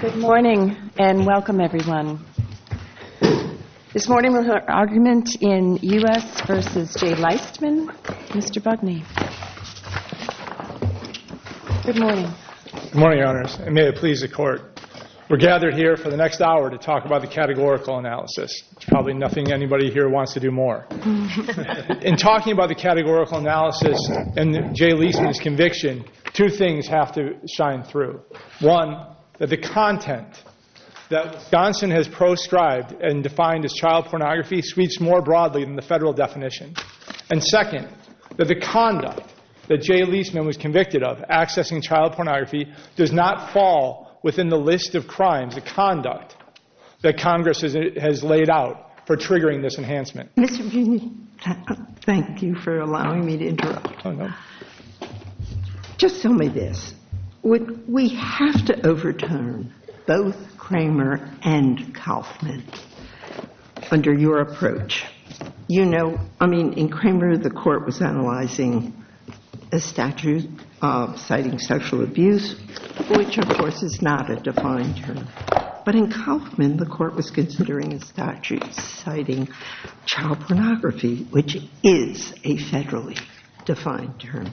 Good morning and welcome everyone. This morning we'll hear argument in U.S. v. Jay Liestman, Mr. Budney. Good morning. Good morning, Your Honors, and may it please the Court. We're gathered here for the next hour to talk about the categorical analysis. There's probably nothing anybody here wants to do more. In talking about the categorical analysis and Jay Liestman's conviction, two things have to shine through. One, that the content that Gonson has proscribed and defined as child pornography sweeps more broadly than the federal definition. And second, that the conduct that Jay Liestman was convicted of accessing child pornography does not fall within the list of crimes, the conduct that Congress has laid out for triggering this enhancement. Mr. Budney, thank you for allowing me to interrupt. Just tell me this. Would we have to overturn both Kramer and Kauffman under your approach? You know, I mean, in Kramer the Court was analyzing a statute citing social abuse, which of course is not a defined term. But in Kauffman the Court was considering a statute citing child pornography, which is a federally defined term.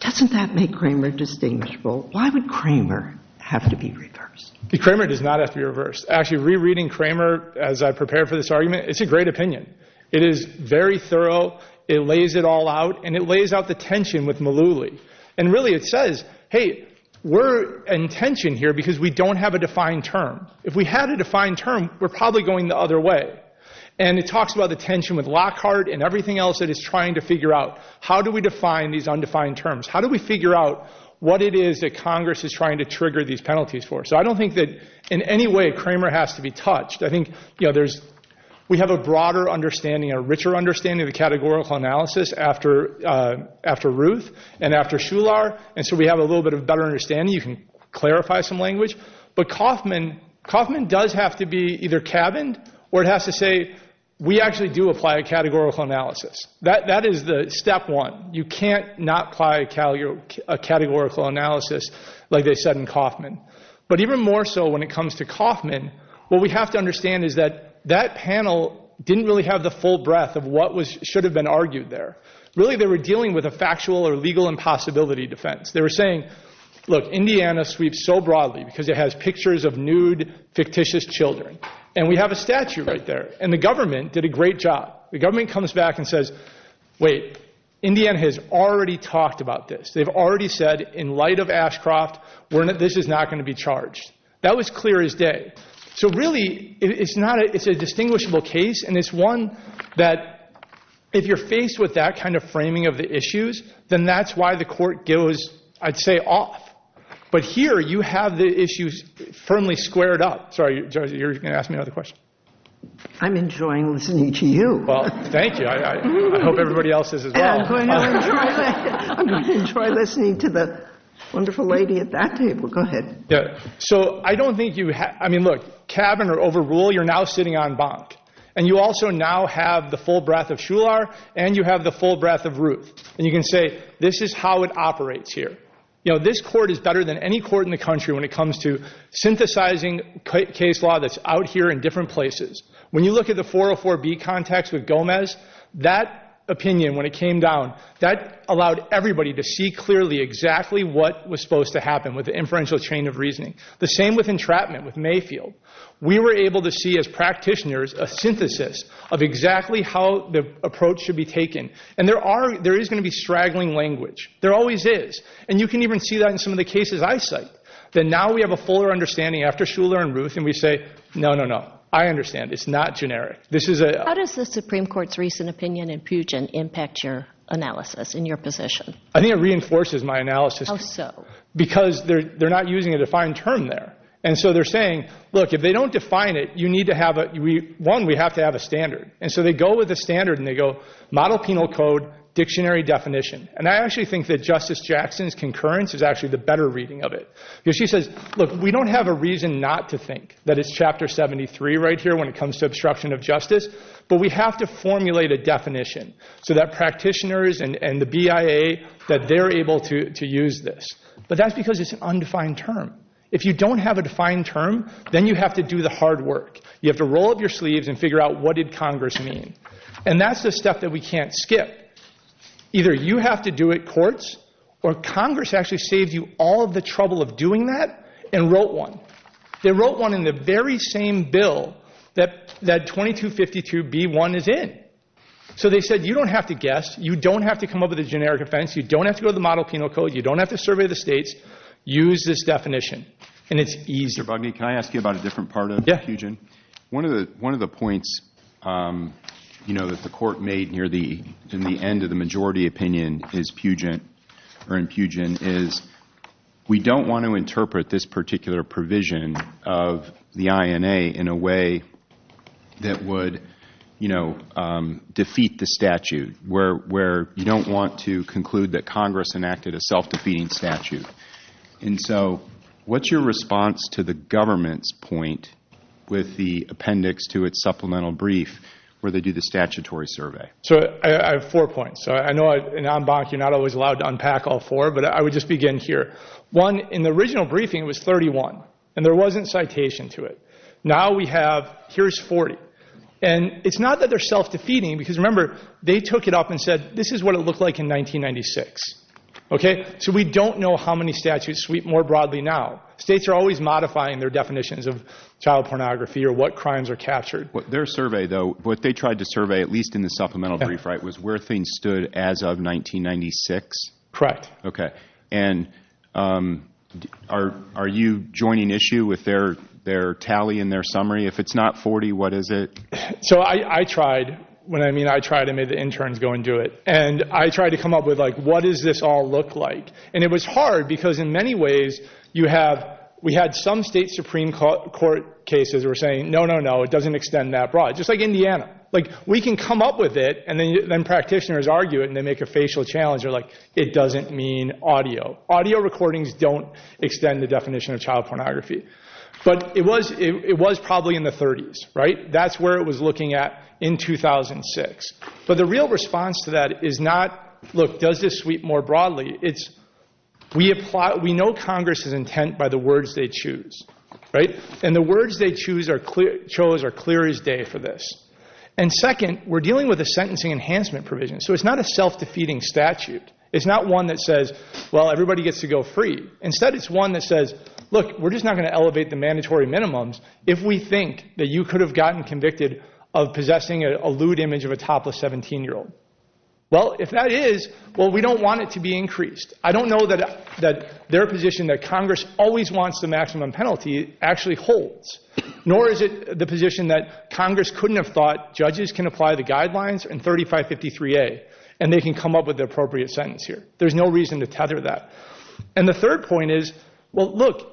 Doesn't that make Kramer distinguishable? Why would Kramer have to be reversed? Kramer does not have to be reversed. Actually, rereading Kramer as I prepare for this argument, it's a great opinion. It is very thorough. It lays it all out. And it lays out the tension with Malouly. And really it says, hey, we're in tension here because we don't have a defined term. If we had a defined term, we're probably going the other way. And it talks about the tension with Lockhart and everything else that it's trying to figure out. How do we define these undefined terms? How do we figure out what it is that Congress is trying to trigger these penalties for? So I don't think that in any way Kramer has to be touched. I think we have a broader understanding, a richer understanding of the categorical analysis after Ruth and after Shular. And so we have a little bit of a better understanding. You can clarify some language. But Kauffman does have to be either cabined or it has to say, we actually do apply a categorical analysis. That is the step one. You can't not apply a categorical analysis like they said in Kauffman. But even more so when it comes to Kauffman, what we have to understand is that that panel didn't really have the full breadth of what should have been argued there. Really they were dealing with a factual or legal impossibility defense. They were saying, look, Indiana sweeps so broadly because it has pictures of nude, fictitious children. And we have a statue right there. And the government did a great job. The government comes back and says, wait, Indiana has already talked about this. They've already said in light of Ashcroft, this is not going to be charged. That was clear as day. So really it's not. It's a distinguishable case. And it's one that if you're faced with that kind of framing of the issues, then that's why the court goes, I'd say, off. But here you have the issues firmly squared up. Sorry, you're going to ask me another question. I'm enjoying listening to you. Well, thank you. I hope everybody else is as well. I'm going to enjoy listening to the wonderful lady at that table. Go ahead. So I don't think you have. I mean, look, cabin or overrule, you're now sitting on bonk. And you also now have the full breadth of Shular and you have the full breadth of Ruth. And you can say this is how it operates here. You know, this court is better than any court in the country when it comes to synthesizing case law that's out here in different places. When you look at the 404B context with Gomez, that opinion, when it came down, that allowed everybody to see clearly exactly what was supposed to happen with the inferential chain of reasoning. The same with entrapment, with Mayfield. We were able to see as practitioners a synthesis of exactly how the approach should be taken. And there is going to be straggling language. There always is. And you can even see that in some of the cases I cite. That now we have a fuller understanding after Shular and Ruth and we say, no, no, no. I understand. It's not generic. How does the Supreme Court's recent opinion in Pugin impact your analysis and your position? I think it reinforces my analysis. How so? Because they're not using a defined term there. And so they're saying, look, if they don't define it, you need to have a – one, we have to have a standard. And so they go with a standard and they go model penal code, dictionary definition. And I actually think that Justice Jackson's concurrence is actually the better reading of it. Because she says, look, we don't have a reason not to think that it's Chapter 73 right here when it comes to obstruction of justice, but we have to formulate a definition so that practitioners and the BIA, that they're able to use this. But that's because it's an undefined term. If you don't have a defined term, then you have to do the hard work. You have to roll up your sleeves and figure out what did Congress mean. And that's the step that we can't skip. Either you have to do it, courts, or Congress actually saved you all the trouble of doing that and wrote one. They wrote one in the very same bill that 2252B1 is in. So they said, you don't have to guess. You don't have to come up with a generic offense. You don't have to go to the model penal code. You don't have to survey the states. Use this definition. And it's easy. Mr. Bugney, can I ask you about a different part of the confusion? Yeah. One of the points that the court made in the end of the majority opinion in Puget is, we don't want to interpret this particular provision of the INA in a way that would defeat the statute, where you don't want to conclude that Congress enacted a self-defeating statute. And so what's your response to the government's point with the appendix to its supplemental brief where they do the statutory survey? So I have four points. I know in en banc you're not always allowed to unpack all four, but I would just begin here. One, in the original briefing it was 31, and there wasn't citation to it. Now we have, here's 40. And it's not that they're self-defeating, because remember, they took it up and said, this is what it looked like in 1996. So we don't know how many statutes sweep more broadly now. States are always modifying their definitions of child pornography or what crimes are captured. Their survey, though, what they tried to survey, at least in the supplemental brief, was where things stood as of 1996. Correct. And are you joining issue with their tally and their summary? If it's not 40, what is it? So I tried. When I mean I tried, I made the interns go and do it. And I tried to come up with, like, what does this all look like? And it was hard, because in many ways we had some state Supreme Court cases that were saying, no, no, no, it doesn't extend that broad. Just like Indiana. Like, we can come up with it, and then practitioners argue it, and they make a facial challenge. They're like, it doesn't mean audio. Audio recordings don't extend the definition of child pornography. But it was probably in the 30s, right? That's where it was looking at in 2006. But the real response to that is not, look, does this sweep more broadly? It's, we know Congress's intent by the words they choose, right? And the words they chose are clear as day for this. And second, we're dealing with a sentencing enhancement provision. So it's not a self-defeating statute. It's not one that says, well, everybody gets to go free. Instead, it's one that says, look, we're just not going to elevate the mandatory minimums if we think that you could have gotten convicted of possessing a lewd image of a topless 17-year-old. Well, if that is, well, we don't want it to be increased. I don't know that their position that Congress always wants the maximum penalty actually holds, nor is it the position that Congress couldn't have thought judges can apply the guidelines in 3553A, and they can come up with the appropriate sentence here. There's no reason to tether that. And the third point is, well, look,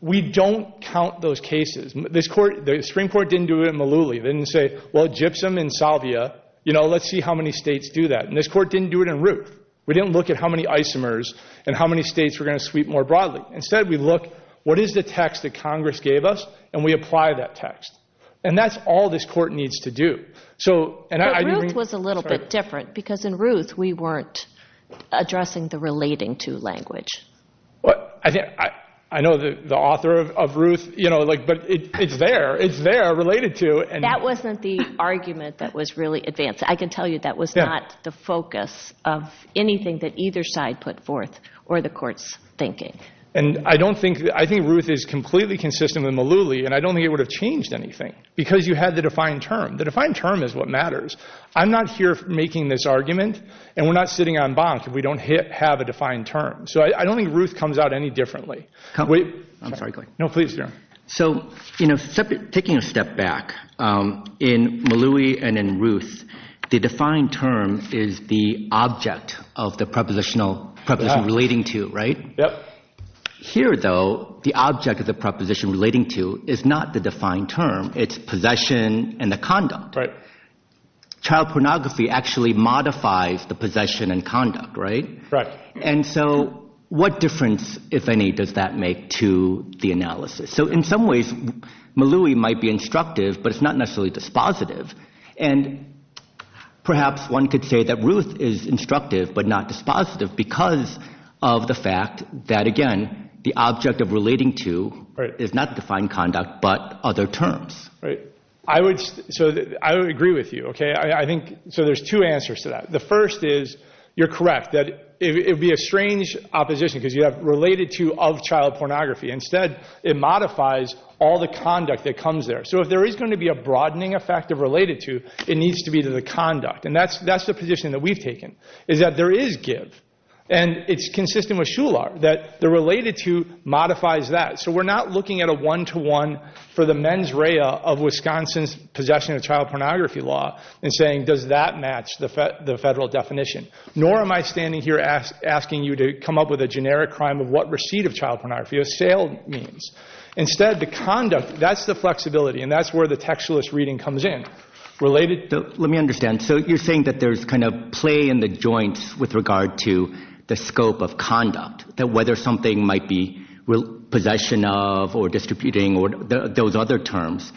we don't count those cases. The Supreme Court didn't do it in Malooly. They didn't say, well, gypsum and salvia, you know, let's see how many states do that. And this court didn't do it in Ruth. We didn't look at how many isomers and how many states were going to sweep more broadly. Instead, we look, what is the text that Congress gave us, and we apply that text. And that's all this court needs to do. But Ruth was a little bit different because in Ruth we weren't addressing the relating to language. I know the author of Ruth, you know, but it's there. It's there, related to. That wasn't the argument that was really advanced. I can tell you that was not the focus of anything that either side put forth or the court's thinking. And I think Ruth is completely consistent with Malooly, and I don't think it would have changed anything because you had the defined term. The defined term is what matters. I'm not here making this argument, and we're not sitting on bonk if we don't have a defined term. So I don't think Ruth comes out any differently. Wait. I'm sorry. No, please. So, you know, taking a step back, in Malooly and in Ruth, the defined term is the object of the prepositional, preposition relating to, right? Yep. Here, though, the object of the preposition relating to is not the defined term. It's possession and the conduct. Right. Child pornography actually modifies the possession and conduct, right? Right. And so what difference, if any, does that make to the analysis? So in some ways Malooly might be instructive, but it's not necessarily dispositive. And perhaps one could say that Ruth is instructive but not dispositive because of the fact that, again, the object of relating to is not defined conduct but other terms. Right. So I would agree with you, okay? So there's two answers to that. The first is you're correct, that it would be a strange opposition because you have related to of child pornography. Instead, it modifies all the conduct that comes there. So if there is going to be a broadening effect of related to, it needs to be to the conduct. And that's the position that we've taken, is that there is give, and it's consistent with SHULAR, that the related to modifies that. So we're not looking at a one-to-one for the mens rea of Wisconsin's possession of child pornography law and saying, does that match the federal definition? Nor am I standing here asking you to come up with a generic crime of what receipt of child pornography or sale means. Instead, the conduct, that's the flexibility, and that's where the textualist reading comes in. Related to... Let me understand. So you're saying that there's kind of play in the joints with regard to the scope of conduct, that whether something might be possession of or distributing or those other terms.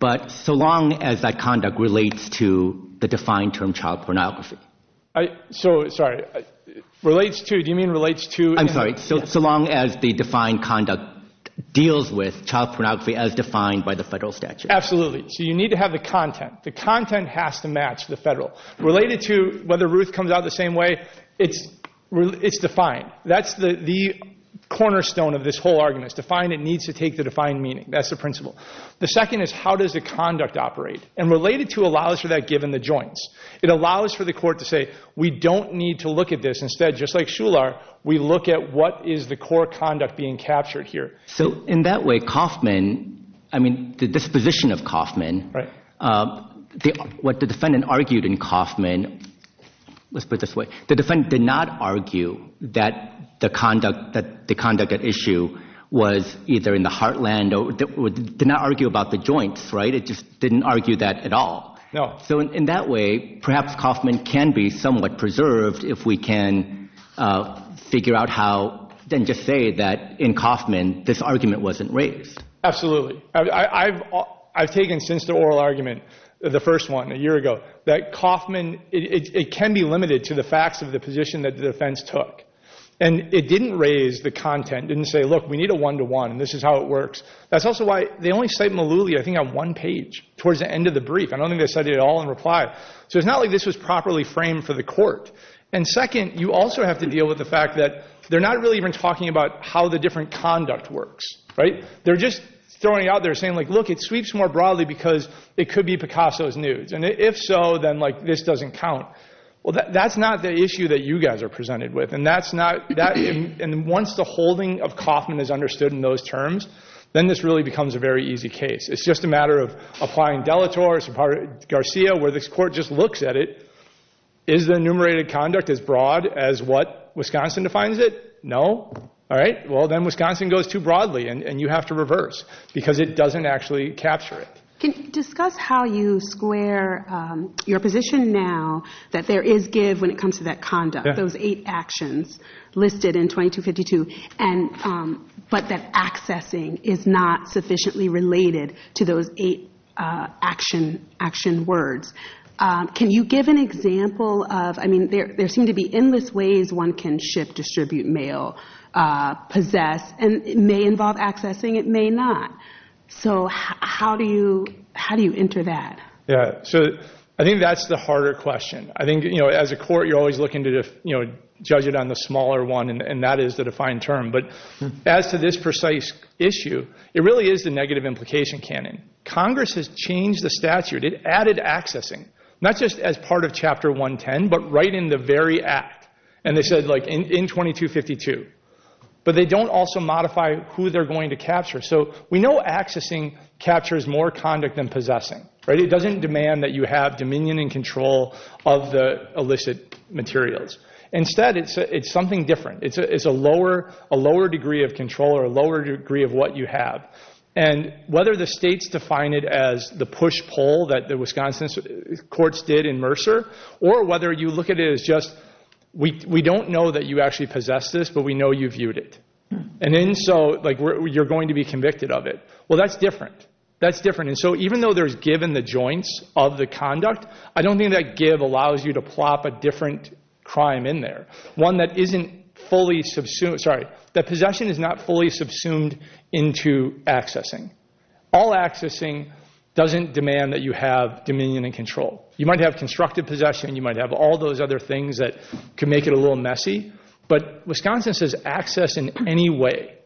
But so long as that conduct relates to the defined term child pornography. So, sorry, relates to... Do you mean relates to... I'm sorry. So long as the defined conduct deals with child pornography as defined by the federal statute. Absolutely. So you need to have the content. The content has to match the federal. Related to, whether Ruth comes out the same way, it's defined. That's the cornerstone of this whole argument. It's defined. It needs to take the defined meaning. That's the principle. The second is how does the conduct operate? And related to allows for that given the joints. It allows for the court to say we don't need to look at this. Instead, just like Shular, we look at what is the core conduct being captured here. So in that way, Kauffman, I mean the disposition of Kauffman... Right. What the defendant argued in Kauffman, let's put it this way, the defendant did not argue that the conduct at issue was either in the heartland or did not argue about the joints, right? It just didn't argue that at all. No. So in that way, perhaps Kauffman can be somewhat preserved if we can figure out how then just say that in Kauffman this argument wasn't raised. Absolutely. I've taken since the oral argument, the first one a year ago, that Kauffman, it can be limited to the facts of the position that the defense took. And it didn't raise the content. It didn't say, look, we need a one-to-one and this is how it works. That's also why they only cite Malooly, I think, on one page towards the end of the brief. I don't think they cited it all in reply. So it's not like this was properly framed for the court. And second, you also have to deal with the fact that they're not really even talking about how the different conduct works, right? They're just throwing it out there saying, look, it sweeps more broadly because it could be Picasso's nudes. And if so, then this doesn't count. Well, that's not the issue that you guys are presented with. And once the holding of Kauffman is understood in those terms, then this really becomes a very easy case. It's just a matter of applying Delatorre, Garcia, where this court just looks at it. Is the enumerated conduct as broad as what Wisconsin defines it? No. All right, well, then Wisconsin goes too broadly and you have to reverse because it doesn't actually capture it. Can you discuss how you square your position now that there is give when it comes to that conduct, those eight actions listed in 2252, but that accessing is not sufficiently related to those eight action words? Can you give an example of, I mean, there seem to be endless ways one can ship, distribute, mail, possess, and it may involve accessing, it may not. So how do you enter that? Yeah, so I think that's the harder question. I think, you know, as a court, you're always looking to judge it on the smaller one, and that is the defined term. But as to this precise issue, it really is the negative implication canon. Congress has changed the statute. It added accessing, not just as part of Chapter 110, but right in the very act. And they said, like, in 2252. But they don't also modify who they're going to capture. So we know accessing captures more conduct than possessing. It doesn't demand that you have dominion and control of the illicit materials. Instead, it's something different. It's a lower degree of control or a lower degree of what you have. And whether the states define it as the push-pull that the Wisconsin courts did in Mercer, or whether you look at it as just we don't know that you actually possessed this, but we know you viewed it. And then so, like, you're going to be convicted of it. Well, that's different. That's different. And so even though there's give in the joints of the conduct, I don't think that give allows you to plop a different crime in there, one that isn't fully subsumed. Sorry, that possession is not fully subsumed into accessing. All accessing doesn't demand that you have dominion and control. You might have constructive possession. You might have all those other things that could make it a little messy. But Wisconsin says access in any way.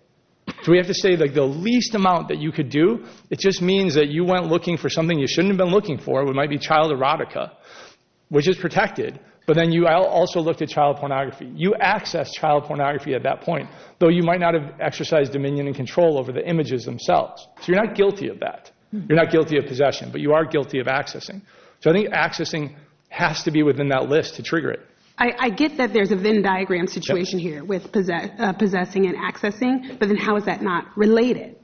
So we have to say, like, the least amount that you could do, it just means that you went looking for something you shouldn't have been looking for. It might be child erotica, which is protected. But then you also looked at child pornography. You accessed child pornography at that point, though you might not have exercised dominion and control over the images themselves. So you're not guilty of that. You're not guilty of possession, but you are guilty of accessing. So I think accessing has to be within that list to trigger it. I get that there's a Venn diagram situation here with possessing and accessing, but then how is that not related?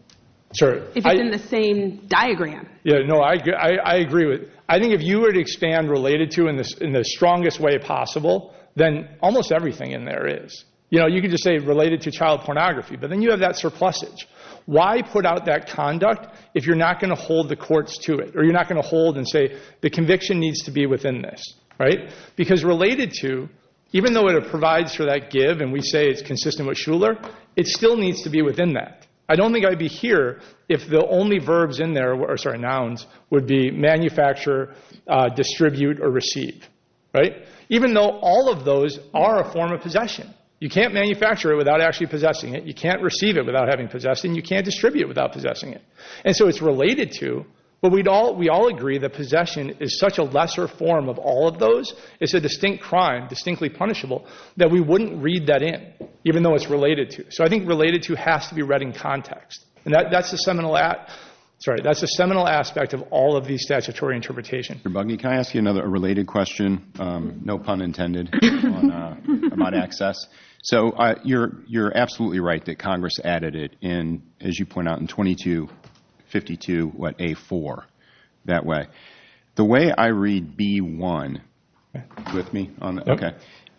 Sure. If it's in the same diagram. Yeah, no, I agree. I think if you were to expand related to in the strongest way possible, then almost everything in there is. You know, you could just say related to child pornography, but then you have that surplusage. Why put out that conduct if you're not going to hold the courts to it or you're not going to hold and say the conviction needs to be within this, right? Because related to, even though it provides for that give and we say it's consistent with Shuler, it still needs to be within that. I don't think I'd be here if the only verbs in there, or sorry, nouns, would be manufacture, distribute, or receive, right? Even though all of those are a form of possession. You can't manufacture it without actually possessing it. You can't receive it without having possessed it, and you can't distribute it without possessing it. And so it's related to, but we all agree that possession is such a lesser form of all of those. It's a distinct crime, distinctly punishable, that we wouldn't read that in, even though it's related to. So I think related to has to be read in context. And that's the seminal aspect of all of these statutory interpretations. Mr. Bugney, can I ask you another related question, no pun intended, about access? So you're absolutely right that Congress added it in, as you point out, in 2252, what, A4, that way. The way I read B1,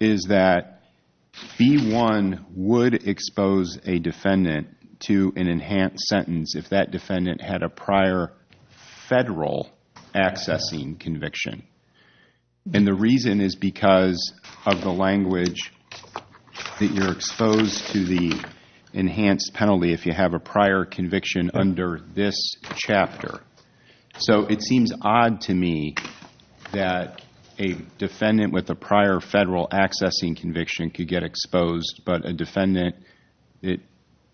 is that B1 would expose a defendant to an enhanced sentence if that defendant had a prior federal accessing conviction. And the reason is because of the language that you're exposed to the enhanced penalty if you have a prior conviction under this chapter. So it seems odd to me that a defendant with a prior federal accessing conviction could get exposed, but a defendant that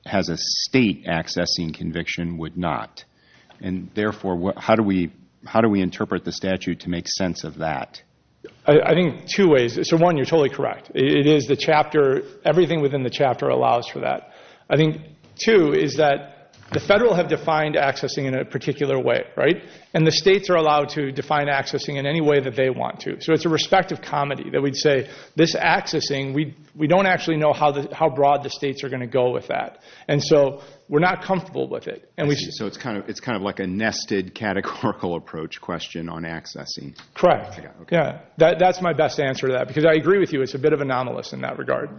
has a state accessing conviction would not. And therefore, how do we interpret the statute to make sense of that? I think two ways. So one, you're totally correct. It is the chapter, everything within the chapter allows for that. I think two is that the federal have defined accessing in a particular way, right? And the states are allowed to define accessing in any way that they want to. So it's a respective comedy that we'd say, this accessing, we don't actually know how broad the states are going to go with that. And so we're not comfortable with it. So it's kind of like a nested, categorical approach question on accessing. Correct. That's my best answer to that, because I agree with you, it's a bit of anomalous in that regard.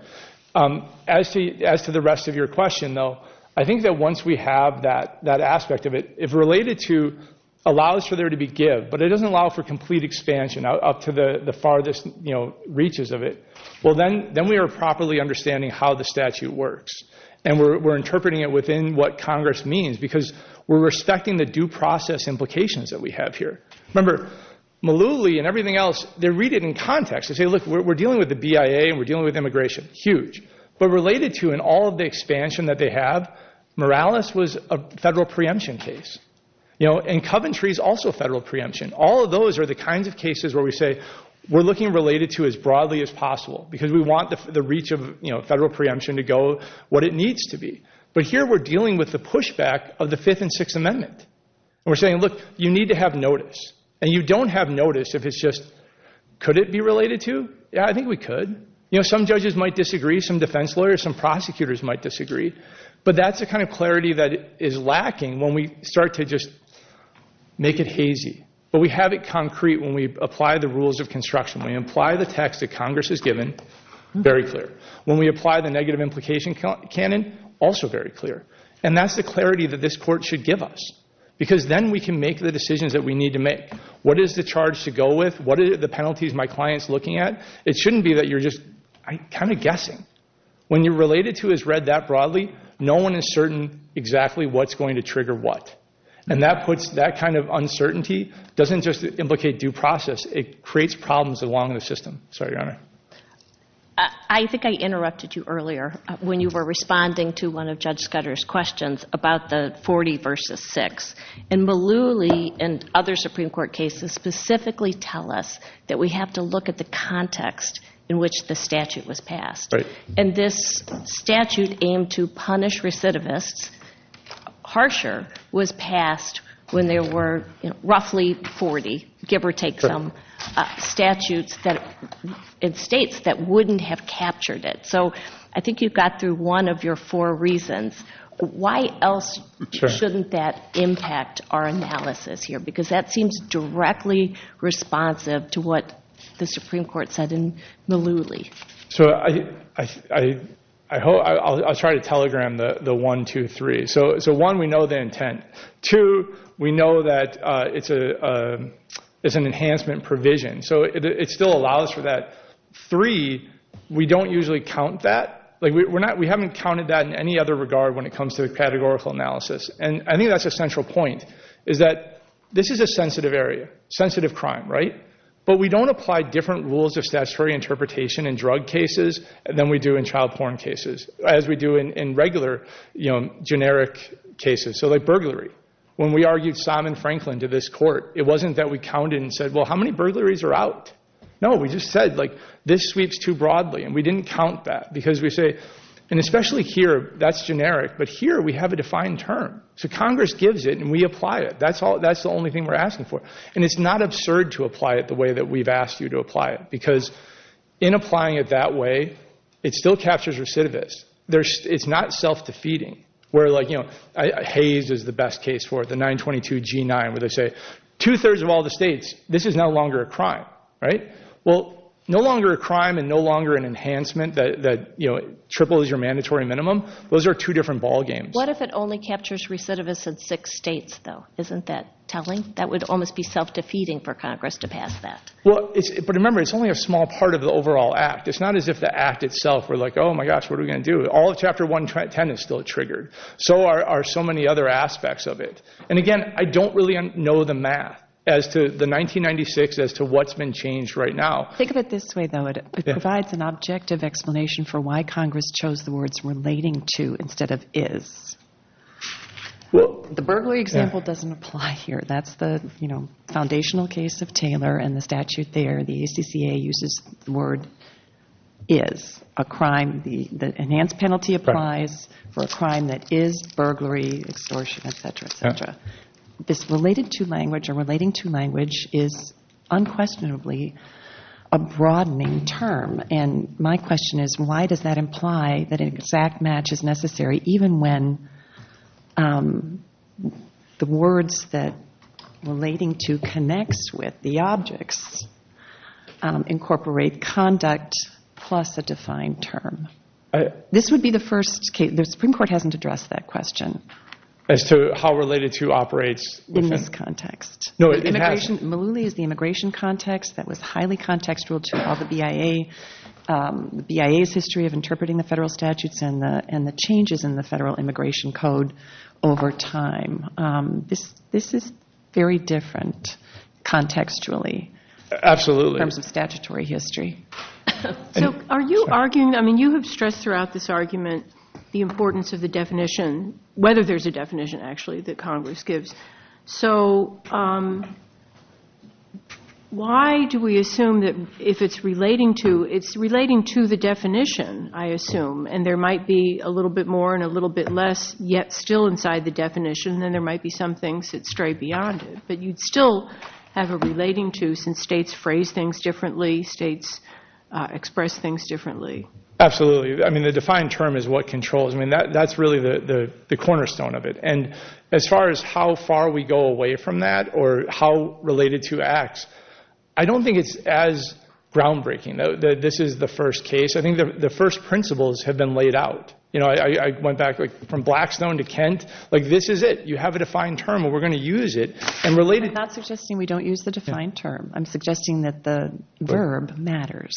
As to the rest of your question, though, I think that once we have that aspect of it, if related to allows for there to be give, but it doesn't allow for complete expansion up to the farthest reaches of it, well, then we are properly understanding how the statute works. And we're interpreting it within what Congress means, because we're respecting the due process implications that we have here. Remember, Malooly and everything else, they read it in context. They say, look, we're dealing with the BIA and we're dealing with immigration. Huge. But related to in all of the expansion that they have, Morales was a federal preemption case. And Coventry is also federal preemption. All of those are the kinds of cases where we say we're looking related to as broadly as possible, because we want the reach of federal preemption to go what it needs to be. But here we're dealing with the pushback of the Fifth and Sixth Amendment. And we're saying, look, you need to have notice. And you don't have notice if it's just could it be related to? Yeah, I think we could. You know, some judges might disagree, some defense lawyers, some prosecutors might disagree. But that's the kind of clarity that is lacking when we start to just make it hazy. But we have it concrete when we apply the rules of construction. When we apply the text that Congress has given, very clear. When we apply the negative implication canon, also very clear. And that's the clarity that this court should give us. Because then we can make the decisions that we need to make. What is the charge to go with? What are the penalties my client's looking at? It shouldn't be that you're just kind of guessing. When you're related to as read that broadly, no one is certain exactly what's going to trigger what. And that kind of uncertainty doesn't just implicate due process. It creates problems along the system. Sorry, Your Honor. I think I interrupted you earlier when you were responding to one of Judge Scudder's questions about the 40 versus 6. And Mullooly and other Supreme Court cases specifically tell us that we have to look at the context in which the statute was passed. And this statute aimed to punish recidivists harsher was passed when there were roughly 40, give or take some, statutes in states that wouldn't have captured it. So I think you got through one of your four reasons. Why else shouldn't that impact our analysis here? Because that seems directly responsive to what the Supreme Court said in Mullooly. So I'll try to telegram the one, two, three. So one, we know the intent. Two, we know that it's an enhancement provision. So it still allows for that. Three, we don't usually count that. We haven't counted that in any other regard when it comes to the categorical analysis. And I think that's a central point, is that this is a sensitive area, sensitive crime, right? But we don't apply different rules of statutory interpretation in drug cases than we do in child porn cases, as we do in regular generic cases. So like burglary, when we argued Simon Franklin to this court, it wasn't that we counted and said, well, how many burglaries are out? No, we just said, like, this sweeps too broadly. And we didn't count that because we say, and especially here, that's generic, but here we have a defined term. So Congress gives it and we apply it. That's the only thing we're asking for. And it's not absurd to apply it the way that we've asked you to apply it because in applying it that way, it still captures recidivists. It's not self-defeating. Where, like, you know, Hays is the best case for it, the 922 G9, where they say two-thirds of all the states, this is no longer a crime, right? Well, no longer a crime and no longer an enhancement that, you know, triple is your mandatory minimum. Those are two different ball games. What if it only captures recidivists in six states, though? Isn't that telling? That would almost be self-defeating for Congress to pass that. Well, but remember, it's only a small part of the overall act. It's not as if the act itself, we're like, oh, my gosh, what are we going to do? All of Chapter 110 is still triggered. So are so many other aspects of it. And, again, I don't really know the math as to the 1996 as to what's been changed right now. Think of it this way, though. It provides an objective explanation for why Congress chose the words relating to instead of is. The burglary example doesn't apply here. That's the, you know, foundational case of Taylor and the statute there. The ACCA uses the word is. A crime, the enhanced penalty applies for a crime that is burglary, extortion, et cetera, et cetera. This related to language or relating to language is unquestionably a broadening term. And my question is why does that imply that an exact match is necessary even when the words that relating to connects with the objects incorporate conduct plus a defined term? This would be the first case. The Supreme Court hasn't addressed that question. As to how related to operates. In this context. No, it has. Malouli is the immigration context that was highly contextual to all the BIA. The BIA's history of interpreting the federal statutes and the changes in the federal immigration code over time. This is very different contextually. Absolutely. In terms of statutory history. So are you arguing, I mean, you have stressed throughout this argument the importance of the definition, whether there's a definition actually that Congress gives. So why do we assume that if it's relating to the definition, I assume, and there might be a little bit more and a little bit less yet still inside the definition, then there might be some things that stray beyond it. But you'd still have a relating to since states phrase things differently, states express things differently. Absolutely. I mean, the defined term is what controls. I mean, that's really the cornerstone of it. And as far as how far we go away from that or how related to acts, I don't think it's as groundbreaking. This is the first case. I think the first principles have been laid out. You know, I went back from Blackstone to Kent. Like, this is it. You have a defined term and we're going to use it. I'm not suggesting we don't use the defined term. I'm suggesting that the verb matters.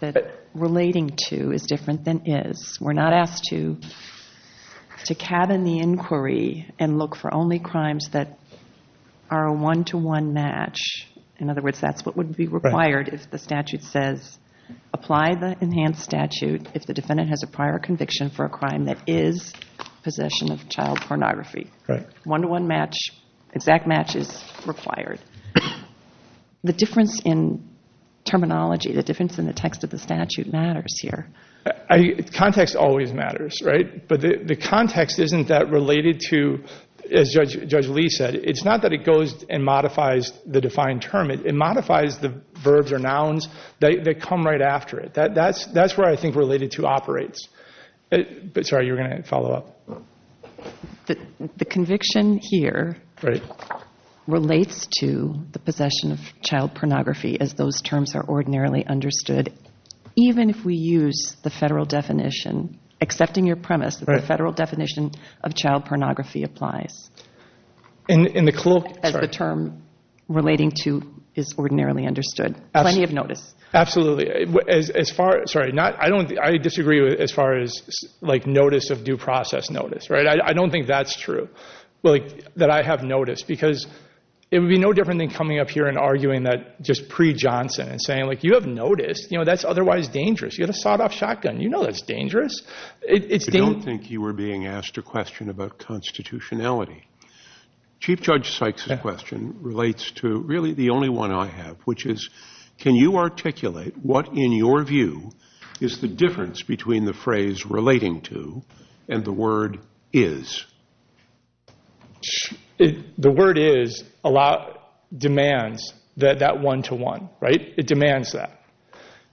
That relating to is different than is. We're not asked to to cabin the inquiry and look for only crimes that are a one-to-one match. In other words, that's what would be required if the statute says apply the enhanced statute if the defendant has a prior conviction for a crime that is possession of child pornography. One-to-one match, exact match is required. The difference in terminology, the difference in the text of the statute matters here. Context always matters, right? But the context isn't that related to, as Judge Lee said, it's not that it goes and modifies the defined term. It modifies the verbs or nouns that come right after it. That's where I think related to operates. Sorry, you were going to follow up. The conviction here relates to the possession of child pornography as those terms are ordinarily understood. Even if we use the federal definition, accepting your premise, the federal definition of child pornography applies. As the term relating to is ordinarily understood. Plenty of notice. Absolutely. I disagree as far as notice of due process notice. I don't think that's true, that I have noticed. Because it would be no different than coming up here and arguing that just pre-Johnson and saying you have noticed, that's otherwise dangerous. You have a sawed-off shotgun, you know that's dangerous. I don't think you were being asked a question about constitutionality. Chief Judge Sykes' question relates to really the only one I have, which is can you articulate what in your view is the difference between the phrase relating to and the word is? The word is demands that one-to-one. It demands that.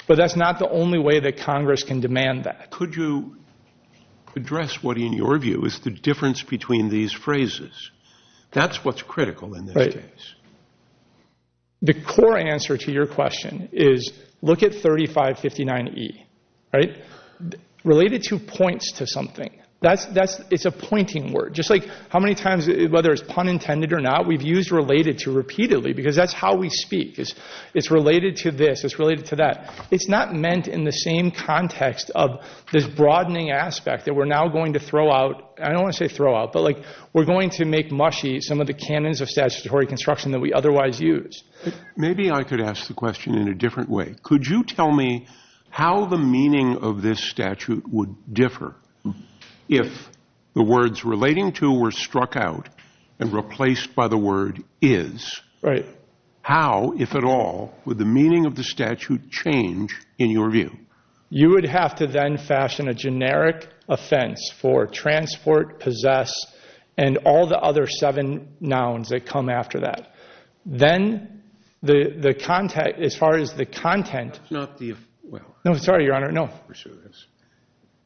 But that's not the only way that Congress can demand that. Could you address what in your view is the difference between these phrases? That's what's critical in this case. The core answer to your question is look at 3559E. Related to points to something. It's a pointing word. Just like how many times, whether it's pun intended or not, we've used related to repeatedly. Because that's how we speak. It's related to this, it's related to that. It's not meant in the same context of this broadening aspect that we're now going to throw out. I don't want to say throw out, but we're going to make mushy some of the canons of statutory construction that we otherwise use. Maybe I could ask the question in a different way. Could you tell me how the meaning of this statute would differ if the words relating to were struck out and replaced by the word is? Right. How, if at all, would the meaning of the statute change in your view? You would have to then fashion a generic offense for transport, possess, and all the other seven nouns that come after that. Then the content, as far as the content. Not the, well. No, sorry, Your Honor, no. We're serious.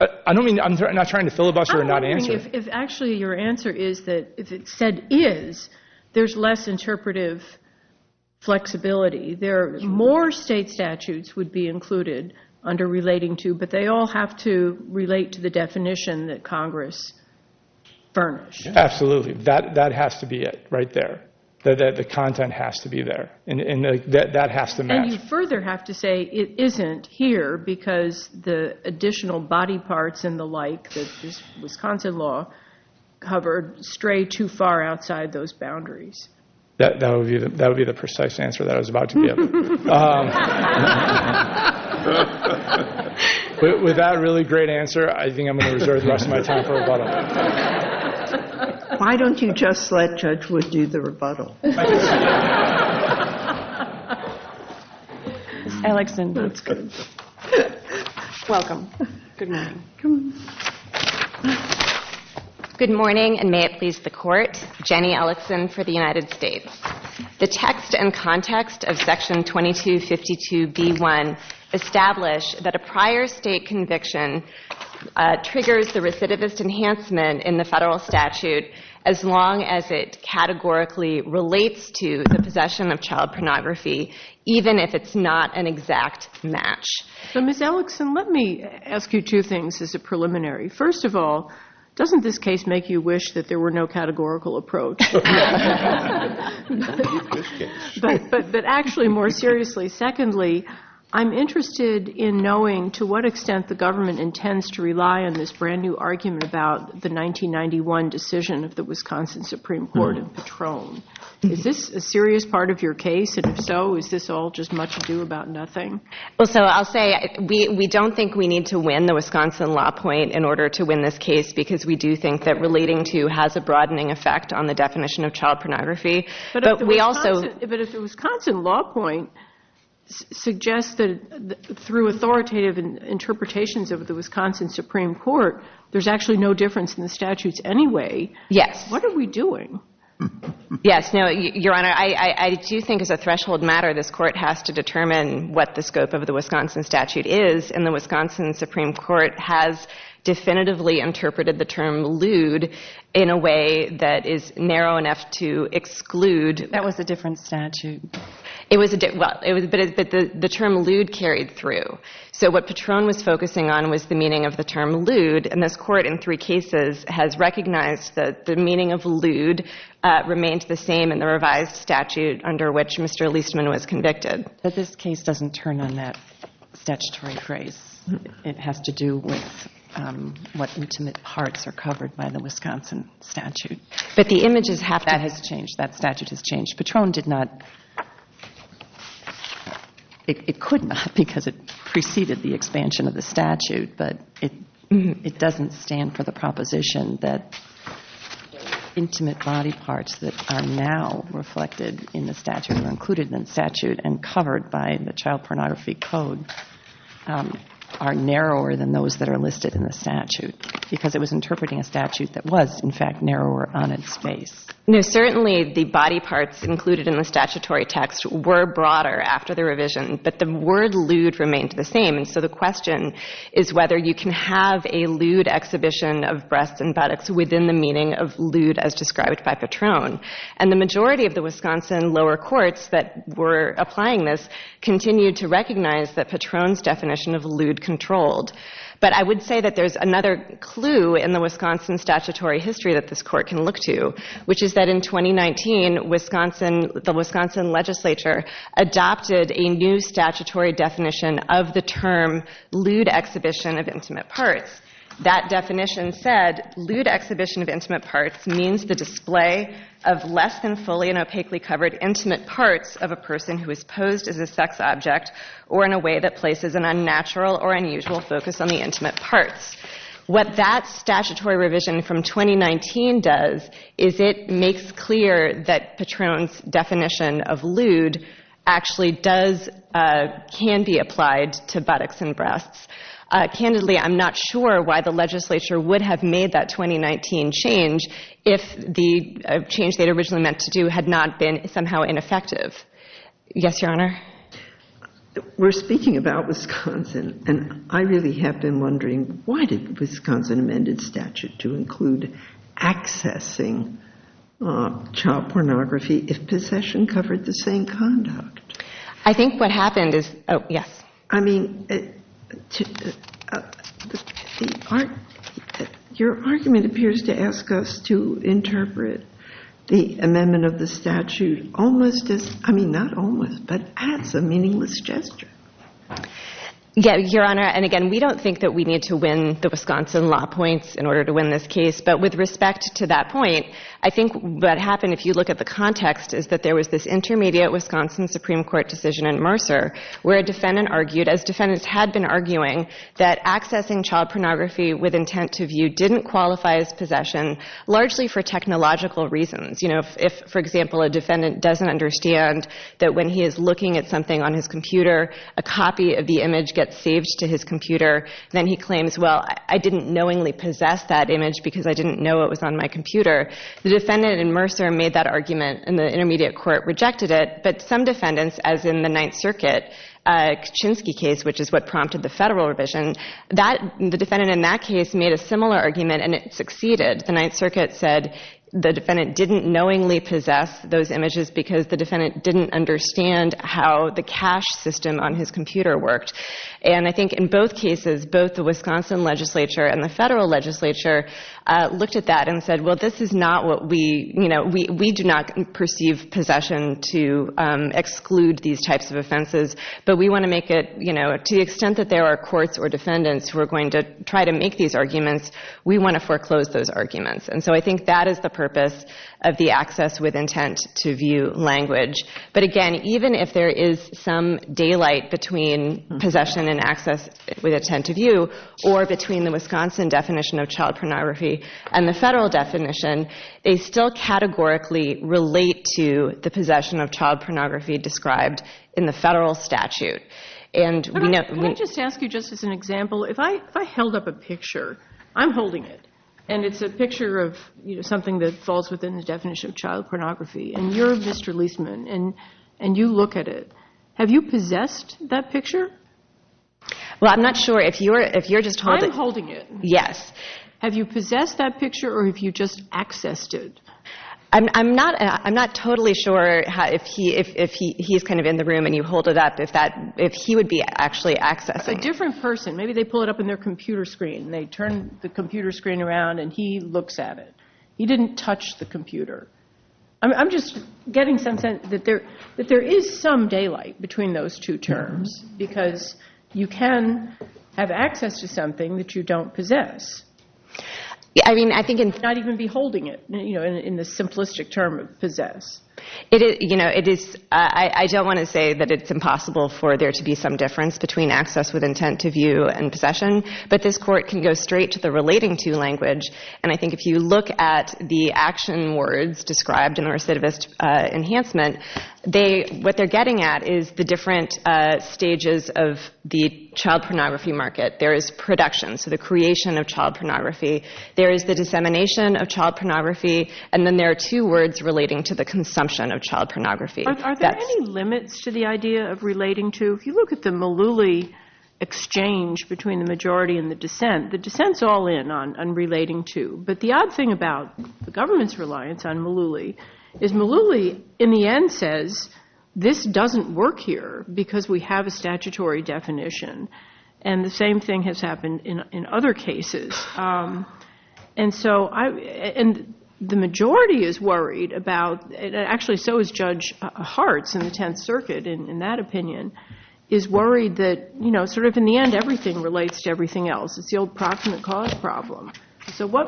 I don't mean, I'm not trying to filibuster or not answer. I'm wondering if actually your answer is that if it said is, there's less interpretive flexibility. There are more state statutes would be included under relating to, but they all have to relate to the definition that Congress furnished. Absolutely. That has to be it right there. The content has to be there. And that has to match. And you further have to say it isn't here because the additional body parts and the like that this Wisconsin law covered stray too far outside those boundaries. That would be the precise answer that I was about to give. With that really great answer, I think I'm going to reserve the rest of my time for a bottle. Why don't you just let Judge Wood do the rebuttal? Alexander. Welcome. Good morning. Good morning, and may it please the court. Jenny Ellison for the United States. The text and context of section 2252B1 establish that a prior state conviction triggers the recidivist enhancement in the federal statute as long as it categorically relates to the possession of child pornography, even if it's not an exact match. So, Ms. Ellison, let me ask you two things as a preliminary. First of all, doesn't this case make you wish that there were no categorical approach? But actually, more seriously, secondly, I'm interested in knowing to what extent the government intends to rely on this brand-new argument about the 1991 decision of the Wisconsin Supreme Court of Patron. Is this a serious part of your case? And if so, is this all just much ado about nothing? Well, so I'll say we don't think we need to win the Wisconsin law point in order to win this case because we do think that relating to has a broadening effect on the definition of child pornography. But if the Wisconsin law point suggests that through authoritative interpretations of the Wisconsin Supreme Court, there's actually no difference in the statutes anyway, what are we doing? Yes, no, Your Honor, I do think as a threshold matter, this court has to determine what the scope of the Wisconsin statute is. And the Wisconsin Supreme Court has definitively interpreted the term lewd in a way that is narrow enough to exclude. That was a different statute. It was, but the term lewd carried through. So what Patron was focusing on was the meaning of the term lewd, and this court in three cases has recognized that the meaning of lewd remains the same in the revised statute under which Mr. Leastman was convicted. But this case doesn't turn on that statutory phrase. It has to do with what intimate parts are covered by the Wisconsin statute. But the images have to. That has changed. That statute has changed. Patron did not – it could not because it preceded the expansion of the statute, but it doesn't stand for the proposition that intimate body parts that are now reflected in the statute or included in the statute and covered by the child pornography code are narrower than those that are listed in the statute because it was interpreting a statute that was, in fact, narrower on its face. No, certainly the body parts included in the statutory text were broader after the revision, but the word lewd remained the same. And so the question is whether you can have a lewd exhibition of breasts and buttocks within the meaning of lewd as described by Patron. And the majority of the Wisconsin lower courts that were applying this continued to recognize that Patron's definition of lewd controlled. But I would say that there's another clue in the Wisconsin statutory history that this court can look to, which is that in 2019, the Wisconsin legislature adopted a new statutory definition of the term lewd exhibition of intimate parts. That definition said, lewd exhibition of intimate parts means the display of less than fully and opaquely covered intimate parts of a person who is posed as a sex object or in a way that places an unnatural or unusual focus on the intimate parts. What that statutory revision from 2019 does is it makes clear that Patron's definition of lewd actually does – can be applied to buttocks and breasts. Candidly, I'm not sure why the legislature would have made that 2019 change if the change they'd originally meant to do had not been somehow ineffective. Yes, Your Honor? We're speaking about Wisconsin, and I really have been wondering why did the Wisconsin amended statute to include accessing child pornography if possession covered the same conduct? I think what happened is – oh, yes. I mean, your argument appears to ask us to interpret the amendment of the statute almost as – I mean, not almost, but as a meaningless gesture. Yes, Your Honor, and again, we don't think that we need to win the Wisconsin law points in order to win this case, but with respect to that point, I think what happened if you look at the context is that there was this intermediate Wisconsin Supreme Court decision in Mercer where a defendant argued, as defendants had been arguing, that accessing child pornography with intent to view didn't qualify as possession largely for technological reasons. You know, if, for example, a defendant doesn't understand that when he is looking at something on his computer, a copy of the image gets saved to his computer, then he claims, well, I didn't knowingly possess that image because I didn't know it was on my computer. The defendant in Mercer made that argument, and the intermediate court rejected it, but some defendants, as in the Ninth Circuit Kaczynski case, which is what prompted the federal revision, the defendant in that case made a similar argument, and it succeeded. The Ninth Circuit said the defendant didn't knowingly possess those images because the defendant didn't understand how the cache system on his computer worked, and I think in both cases, both the Wisconsin legislature and the federal legislature looked at that and said, well, this is not what we, you know, we do not perceive possession to exclude these types of offenses, but we want to make it, you know, to the extent that there are courts or defendants who are going to try to make these arguments, we want to foreclose those arguments. And so I think that is the purpose of the access with intent to view language. But again, even if there is some daylight between possession and access with intent to view or between the Wisconsin definition of child pornography and the federal definition, they still categorically relate to the possession of child pornography described in the federal statute. Can I just ask you just as an example, if I held up a picture, I'm holding it, and it's a picture of, you know, something that falls within the definition of child pornography, and you're Mr. Leisman, and you look at it, have you possessed that picture? Well, I'm not sure if you're just holding it. I'm holding it. Yes. Have you possessed that picture or have you just accessed it? I'm not totally sure if he's kind of in the room and you hold it up, if he would be actually accessing it. A different person. Maybe they pull it up in their computer screen and they turn the computer screen around and he looks at it. He didn't touch the computer. I'm just getting some sense that there is some daylight between those two terms because you can have access to something that you don't possess. I mean, I think in... Not even beholding it, you know, in the simplistic term of possess. It is, you know, it is, I don't want to say that it's impossible for there to be some difference between access with intent to view and possession, but this court can go straight to the relating to language, and I think if you look at the action words described in the recidivist enhancement, they, what they're getting at is the different stages of the child pornography market. There is production, so the creation of child pornography. There is the dissemination of child pornography, and then there are two words relating to the consumption of child pornography. Are there any limits to the idea of relating to? If you look at the Malouli exchange between the majority and the dissent, the dissent's all in on relating to, but the odd thing about the government's reliance on Malouli is Malouli in the end says, this doesn't work here because we have a statutory definition. And the same thing has happened in other cases. And so I, and the majority is worried about, actually so is Judge Hartz in the Tenth Circuit in that opinion, is worried that, you know, sort of in the end everything relates to everything else. It's the old proximate cause problem. So what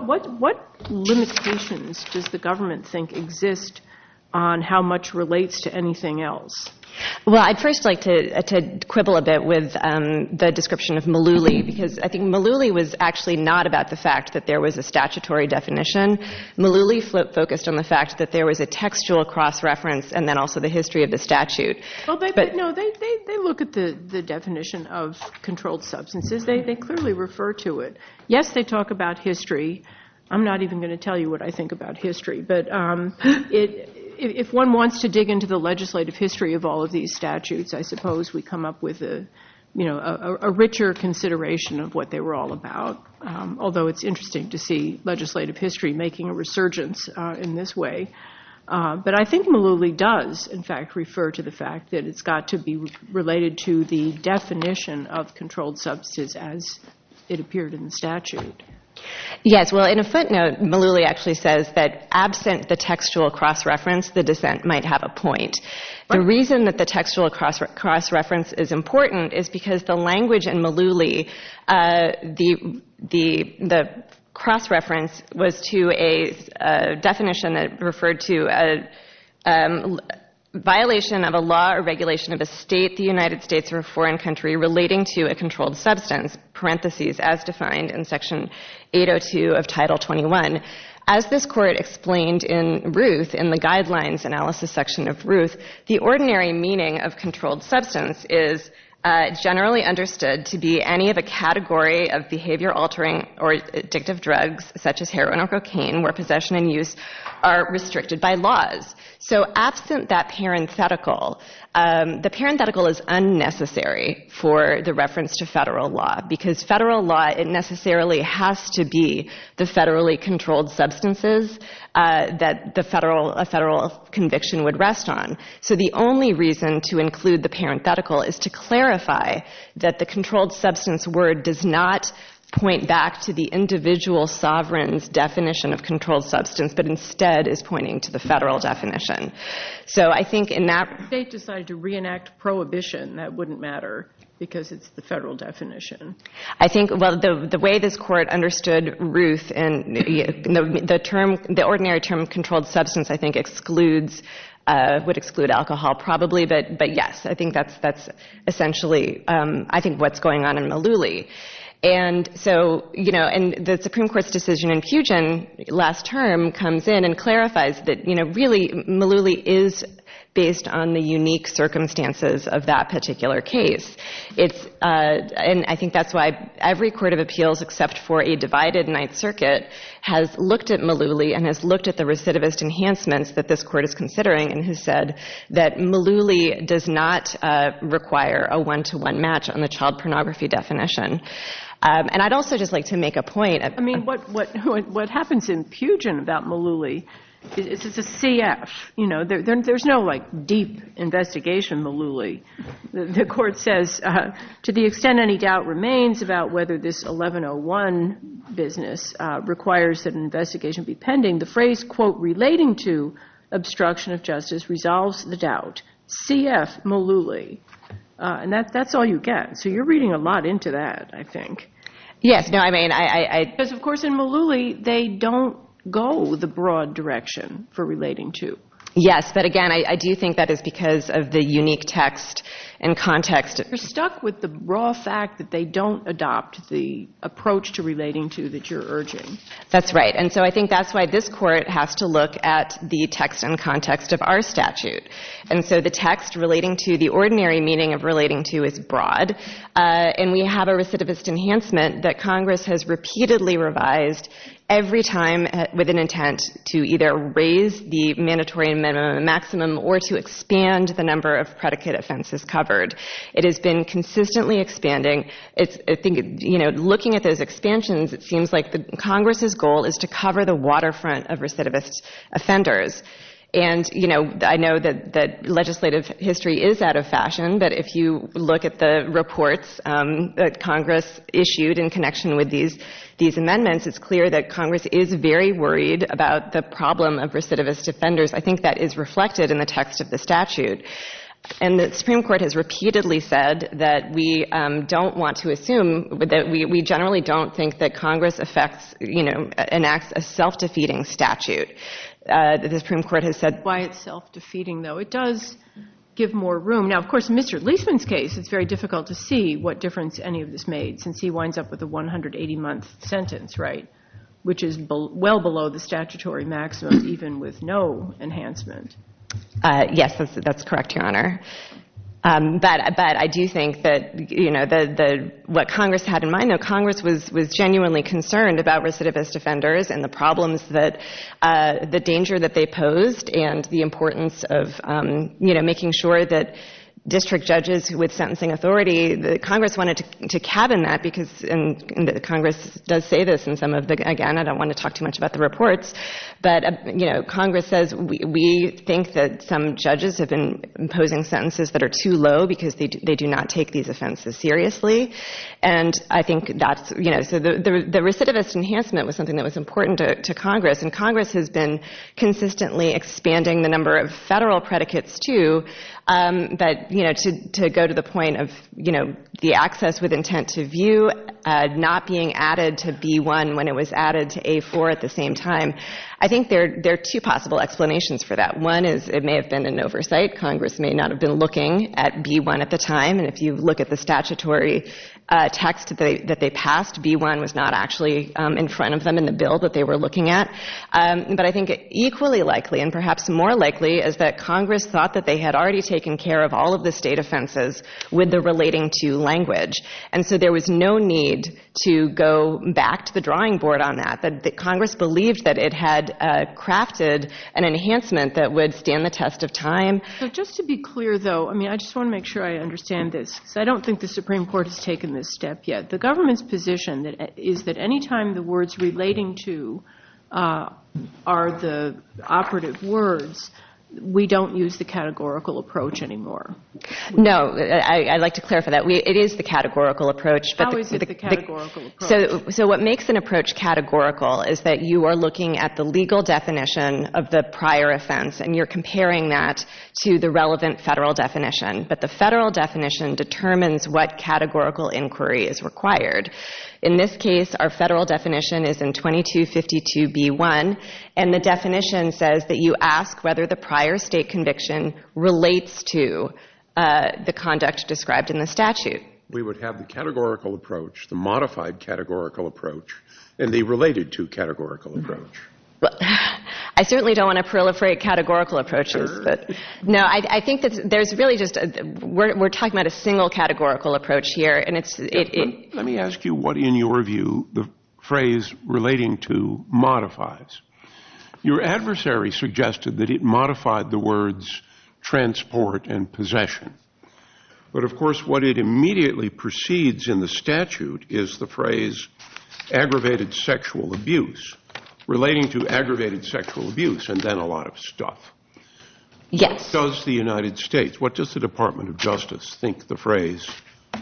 limitations does the government think exist on how much relates to anything else? Well, I'd first like to quibble a bit with the description of Malouli because I think Malouli was actually not about the fact that there was a statutory definition. Malouli focused on the fact that there was a textual cross-reference and then also the history of the statute. No, they look at the definition of controlled substances. They clearly refer to it. Yes, they talk about history. I'm not even going to tell you what I think about history. But if one wants to dig into the legislative history of all of these statutes, I suppose we come up with a richer consideration of what they were all about. Although it's interesting to see legislative history making a resurgence in this way. But I think Malouli does, in fact, refer to the fact that it's got to be related to the definition of controlled substances as it appeared in the statute. Yes, well, in a footnote, Malouli actually says that absent the textual cross-reference, the dissent might have a point. The reason that the textual cross-reference is important is because the language in Malouli, the cross-reference was to a definition that referred to a violation of a law or regulation of a state, the United States, or a foreign country relating to a controlled substance, parentheses, as defined in Section 802 of Title 21. As this court explained in Ruth, in the Guidelines Analysis section of Ruth, the ordinary meaning of controlled substance is generally understood to be any of a category of behavior-altering or addictive drugs, such as heroin or cocaine, where possession and use are restricted by laws. So absent that parenthetical, the parenthetical is unnecessary for the reference to federal law, because federal law, it necessarily has to be the federally controlled substances that a federal conviction would rest on. So the only reason to include the parenthetical is to clarify that the controlled substance word does not point back to the individual sovereign's definition of controlled substance, but instead is pointing to the federal definition. So I think in that— If the state decided to reenact prohibition, that wouldn't matter, because it's the federal definition. I think—well, the way this court understood Ruth, and the term—the ordinary term controlled substance, I think, excludes—would exclude alcohol probably, but yes, I think that's essentially, I think, what's going on in Malouli. And so, you know, and the Supreme Court's decision in Pugin last term comes in and clarifies that, you know, really Malouli is based on the unique circumstances of that particular case. It's—and I think that's why every court of appeals except for a divided Ninth Circuit has looked at Malouli and has looked at the recidivist enhancements that this court is considering and has said that Malouli does not require a one-to-one match on the child pornography definition. And I'd also just like to make a point— I mean, what happens in Pugin about Malouli is it's a CF, you know. There's no, like, deep investigation Malouli. The court says, to the extent any doubt remains about whether this 1101 business requires that an investigation be pending, the phrase, quote, relating to obstruction of justice resolves the doubt. CF Malouli. And that's all you get. So you're reading a lot into that, I think. Yes. No, I mean, I— Because, of course, in Malouli, they don't go the broad direction for relating to. Yes. But, again, I do think that is because of the unique text and context. You're stuck with the raw fact that they don't adopt the approach to relating to that you're urging. That's right. And so I think that's why this court has to look at the text and context of our statute. And so the text relating to the ordinary meaning of relating to is broad. And we have a recidivist enhancement that Congress has repeatedly revised every time with an intent to either raise the mandatory minimum and maximum or to expand the number of predicate offenses covered. It has been consistently expanding. I think, you know, looking at those expansions, it seems like Congress's goal is to cover the waterfront of recidivist offenders. And, you know, I know that legislative history is out of fashion, but if you look at the reports that Congress issued in connection with these amendments, it's clear that Congress is very worried about the problem of recidivist offenders. I think that is reflected in the text of the statute. And the Supreme Court has repeatedly said that we don't want to assume, that we generally don't think that Congress affects, you know, enacts a self-defeating statute. The Supreme Court has said why it's self-defeating, though. It does give more room. Now, of course, in Mr. Leisman's case, it's very difficult to see what difference any of this made since he winds up with a 180-month sentence, right, which is well below the statutory maximum even with no enhancement. Yes, that's correct, Your Honor. But I do think that, you know, what Congress had in mind, though, Congress was genuinely concerned about recidivist offenders and the problems that, the danger that they posed and the importance of, you know, making sure that district judges with sentencing authority, Congress wanted to cabin that because, and Congress does say this in some of the, again, I don't want to talk too much about the reports, but, you know, Congress says we think that some judges have been imposing sentences that are too low because they do not take these offenses seriously. And I think that's, you know, so the recidivist enhancement was something that was important to Congress, and Congress has been consistently expanding the number of federal predicates, too, but, you know, to go to the point of, you know, the access with intent to view not being added to B-1 when it was added to A-4 at the same time, I think there are two possible explanations for that. One is it may have been an oversight. Congress may not have been looking at B-1 at the time, and if you look at the statutory text that they passed, B-1 was not actually in front of them in the bill that they were looking at. But I think equally likely and perhaps more likely is that Congress thought that they had already taken care of all of the state offenses with the relating to language, and so there was no need to go back to the drawing board on that. Congress believed that it had crafted an enhancement that would stand the test of time. So just to be clear, though, I mean, I just want to make sure I understand this because I don't think the Supreme Court has taken this step yet. The government's position is that any time the words relating to are the operative words, we don't use the categorical approach anymore. No, I'd like to clarify that. It is the categorical approach. How is it the categorical approach? So what makes an approach categorical is that you are looking at the legal definition of the prior offense, and you're comparing that to the relevant federal definition, but the federal definition determines what categorical inquiry is required. In this case, our federal definition is in 2252 B-1, and the definition says that you ask whether the prior state conviction relates to the conduct described in the statute. We would have the categorical approach, the modified categorical approach, and the related to categorical approach. I certainly don't want to proliferate categorical approaches. No, I think that there's really just – we're talking about a single categorical approach here, and it's – Let me ask you what, in your view, the phrase relating to modifies. Your adversary suggested that it modified the words transport and possession. But, of course, what it immediately precedes in the statute is the phrase aggravated sexual abuse, relating to aggravated sexual abuse, and then a lot of stuff. Yes. What does the United States – what does the Department of Justice think the phrase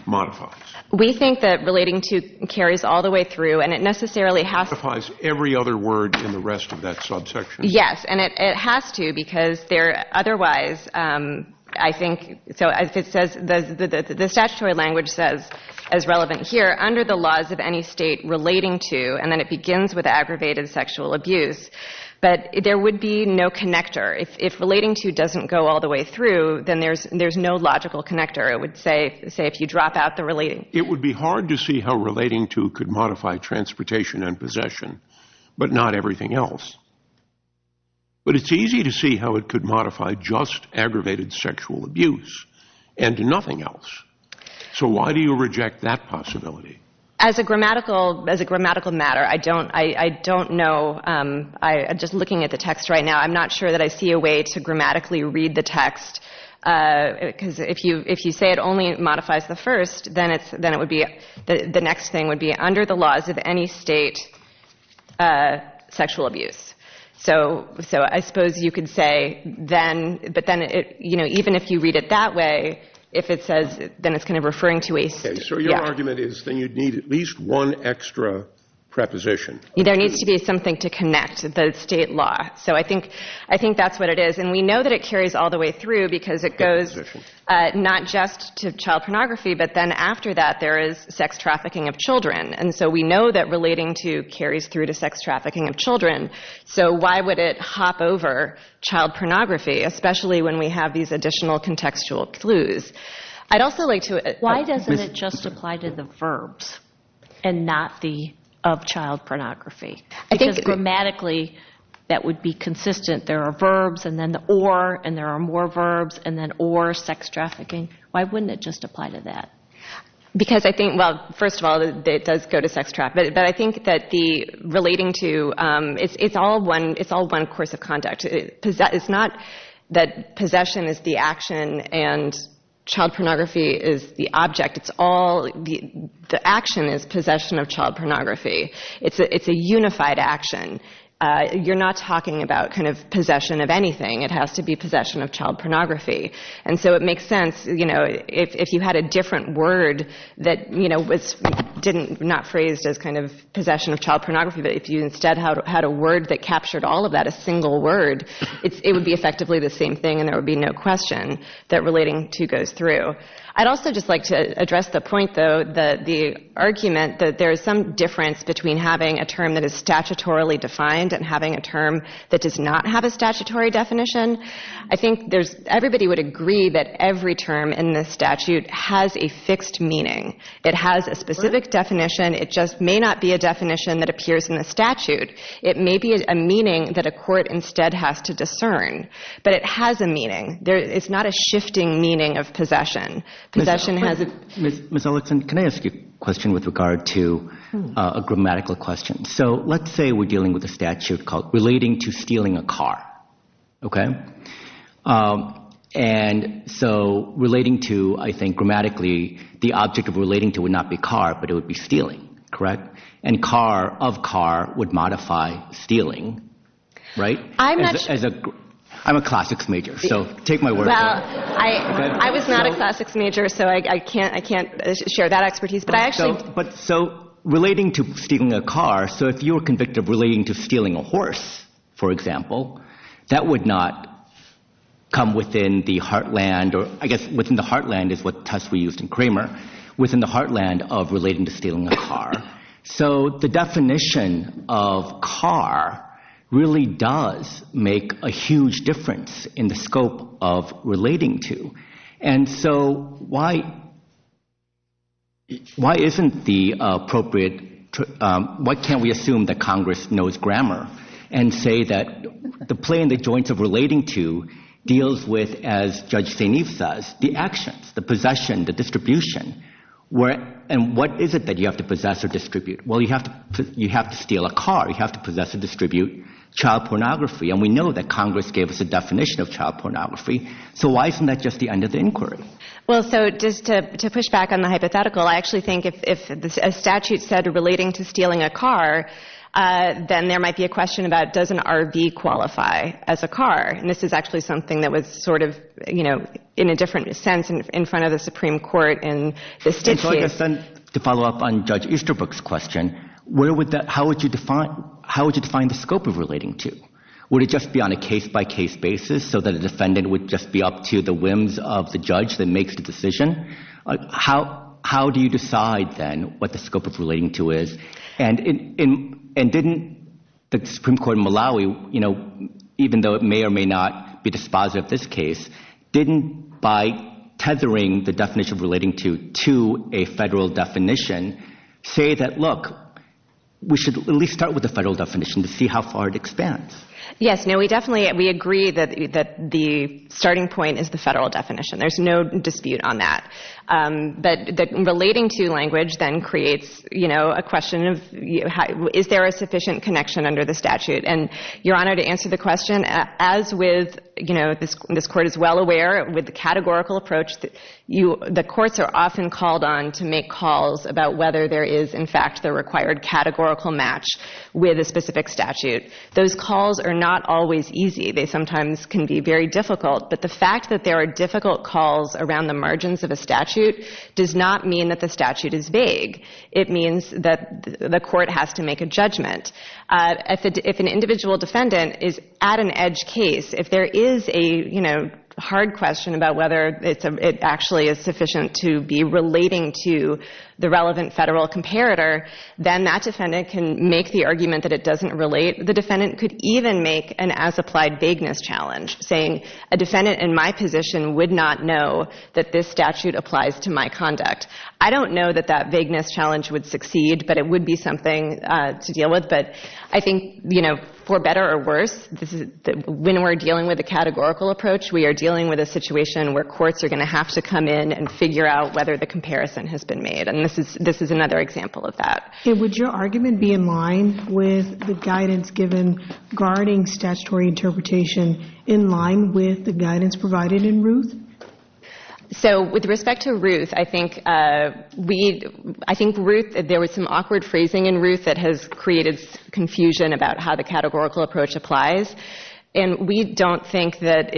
modifies? We think that relating to carries all the way through, and it necessarily has to – It modifies every other word in the rest of that subsection. Yes, and it has to, because there – otherwise, I think – so if it says – the statutory language says, as relevant here, under the laws of any state relating to, and then it begins with aggravated sexual abuse, but there would be no connector. If relating to doesn't go all the way through, then there's no logical connector. It would say, if you drop out the relating – It would be hard to see how relating to could modify transportation and possession, but not everything else. But it's easy to see how it could modify just aggravated sexual abuse, and nothing else. So why do you reject that possibility? As a grammatical matter, I don't know. I'm just looking at the text right now. I'm not sure that I see a way to grammatically read the text, because if you say it only modifies the first, then it would be – the next thing would be, under the laws of any state, sexual abuse. So I suppose you could say, then – but then, you know, even if you read it that way, if it says – then it's kind of referring to a – Okay, so your argument is that you'd need at least one extra preposition. There needs to be something to connect the state law. So I think that's what it is. And we know that it carries all the way through, because it goes not just to child pornography, but then after that there is sex trafficking of children. And so we know that relating to carries through to sex trafficking of children. So why would it hop over child pornography, especially when we have these additional contextual clues? I'd also like to – Why doesn't it just apply to the verbs and not the of child pornography? Because grammatically that would be consistent. There are verbs, and then the or, and there are more verbs, and then or sex trafficking. Why wouldn't it just apply to that? Because I think – well, first of all, it does go to sex trafficking. But I think that the relating to – it's all one course of conduct. It's not that possession is the action and child pornography is the object. It's all – the action is possession of child pornography. It's a unified action. You're not talking about kind of possession of anything. It has to be possession of child pornography. And so it makes sense, you know, if you had a different word that, you know, was – not phrased as kind of possession of child pornography, but if you instead had a word that captured all of that, a single word, it would be effectively the same thing, and there would be no question that relating to goes through. I'd also just like to address the point, though, the argument that there is some difference between having a term that is statutorily defined and having a term that does not have a statutory definition. I think there's – everybody would agree that every term in this statute has a fixed meaning. It has a specific definition. It just may not be a definition that appears in the statute. It may be a meaning that a court instead has to discern, but it has a meaning. It's not a shifting meaning of possession. Possession has a – Ms. Olikson, can I ask you a question with regard to a grammatical question? So let's say we're dealing with a statute called relating to stealing a car, okay? And so relating to, I think, grammatically, the object of relating to would not be car, but it would be stealing, correct? And car, of car, would modify stealing, right? I'm not – As a – I'm a classics major, so take my word for it. Well, I was not a classics major, so I can't share that expertise, but I actually – But so relating to stealing a car, so if you were convicted of relating to stealing a horse, for example, that would not come within the heartland, or I guess within the heartland is what test we used in Kramer, within the heartland of relating to stealing a car. So the definition of car really does make a huge difference in the scope of relating to. And so why isn't the appropriate – Why can't we assume that Congress knows grammar and say that the play in the joints of relating to deals with, as Judge St. Eve says, the actions, the possession, the distribution, and what is it that you have to possess or distribute? Well, you have to steal a car. You have to possess or distribute child pornography, and we know that Congress gave us a definition of child pornography, so why isn't that just the end of the inquiry? Well, so just to push back on the hypothetical, I actually think if a statute said relating to stealing a car, then there might be a question about does an RV qualify as a car, and this is actually something that was sort of, you know, in a different sense in front of the Supreme Court in the statute. To follow up on Judge Easterbrook's question, how would you define the scope of relating to? Would it just be on a case-by-case basis so that a defendant would just be up to the whims of the judge that makes the decision? How do you decide then what the scope of relating to is? And didn't the Supreme Court in Malawi, you know, even though it may or may not be dispositive of this case, didn't by tethering the definition of relating to to a federal definition say that, look, we should at least start with the federal definition to see how far it expands? Yes, no, we definitely, we agree that the starting point is the federal definition. There's no dispute on that. But relating to language then creates, you know, a question of is there a sufficient connection under the statute? And Your Honor, to answer the question, as with, you know, this Court is well aware with the categorical approach, the courts are often called on to make calls about whether there is in fact the required categorical match with a specific statute. Those calls are not always easy. They sometimes can be very difficult. But the fact that there are difficult calls around the margins of a statute does not mean that the statute is vague. It means that the court has to make a judgment. If an individual defendant is at an edge case, if there is a, you know, hard question about whether it actually is sufficient to be relating to the relevant federal comparator, then that defendant can make the argument that it doesn't relate. The defendant could even make an as-applied vagueness challenge, saying a defendant in my position would not know that this statute applies to my conduct. I don't know that that vagueness challenge would succeed, but it would be something to deal with. But I think, you know, for better or worse, when we're dealing with a categorical approach, we are dealing with a situation where courts are going to have to come in and figure out whether the comparison has been made. And this is another example of that. Would your argument be in line with the guidance given regarding statutory interpretation in line with the guidance provided in Ruth? So with respect to Ruth, I think we, I think Ruth, there was some awkward phrasing in Ruth that has created confusion about how the categorical approach applies. And we don't think that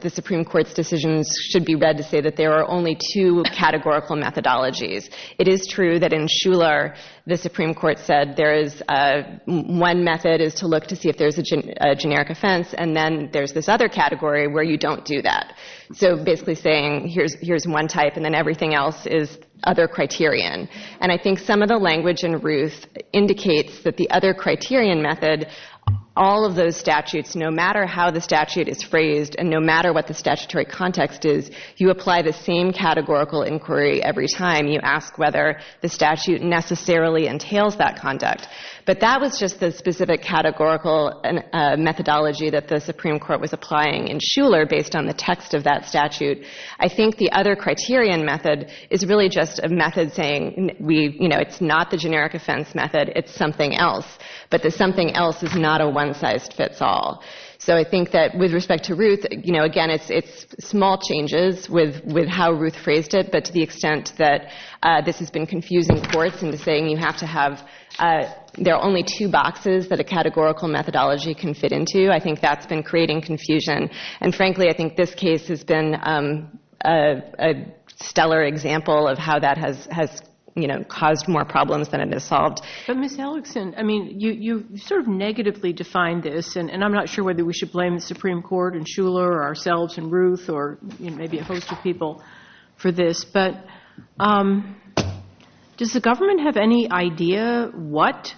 the Supreme Court's decisions should be read to say that there are only two categorical methodologies. It is true that in Shuler, the Supreme Court said there is, one method is to look to see if there's a generic offense, and then there's this other category where you don't do that. So basically saying here's one type and then everything else is other criterion. And I think some of the language in Ruth indicates that the other criterion method, all of those statutes, no matter how the statute is phrased and no matter what the statutory context is, you apply the same categorical inquiry every time you ask whether the statute necessarily entails that conduct. But that was just the specific categorical methodology that the Supreme Court was applying in Shuler based on the text of that statute. I think the other criterion method is really just a method saying we, you know, it's not the generic offense method, it's something else. But the something else is not a one-sized-fits-all. So I think that with respect to Ruth, you know, again, it's small changes with how Ruth phrased it, but to the extent that this has been confusing courts into saying you have to have, there are only two boxes that a categorical methodology can fit into, I think that's been creating confusion. And frankly, I think this case has been a stellar example of how that has, you know, caused more problems than it has solved. But Ms. Ellickson, I mean, you sort of negatively defined this, and I'm not sure whether we should blame the Supreme Court and Shuler or ourselves and Ruth or maybe a host of people for this, but does the government have any idea what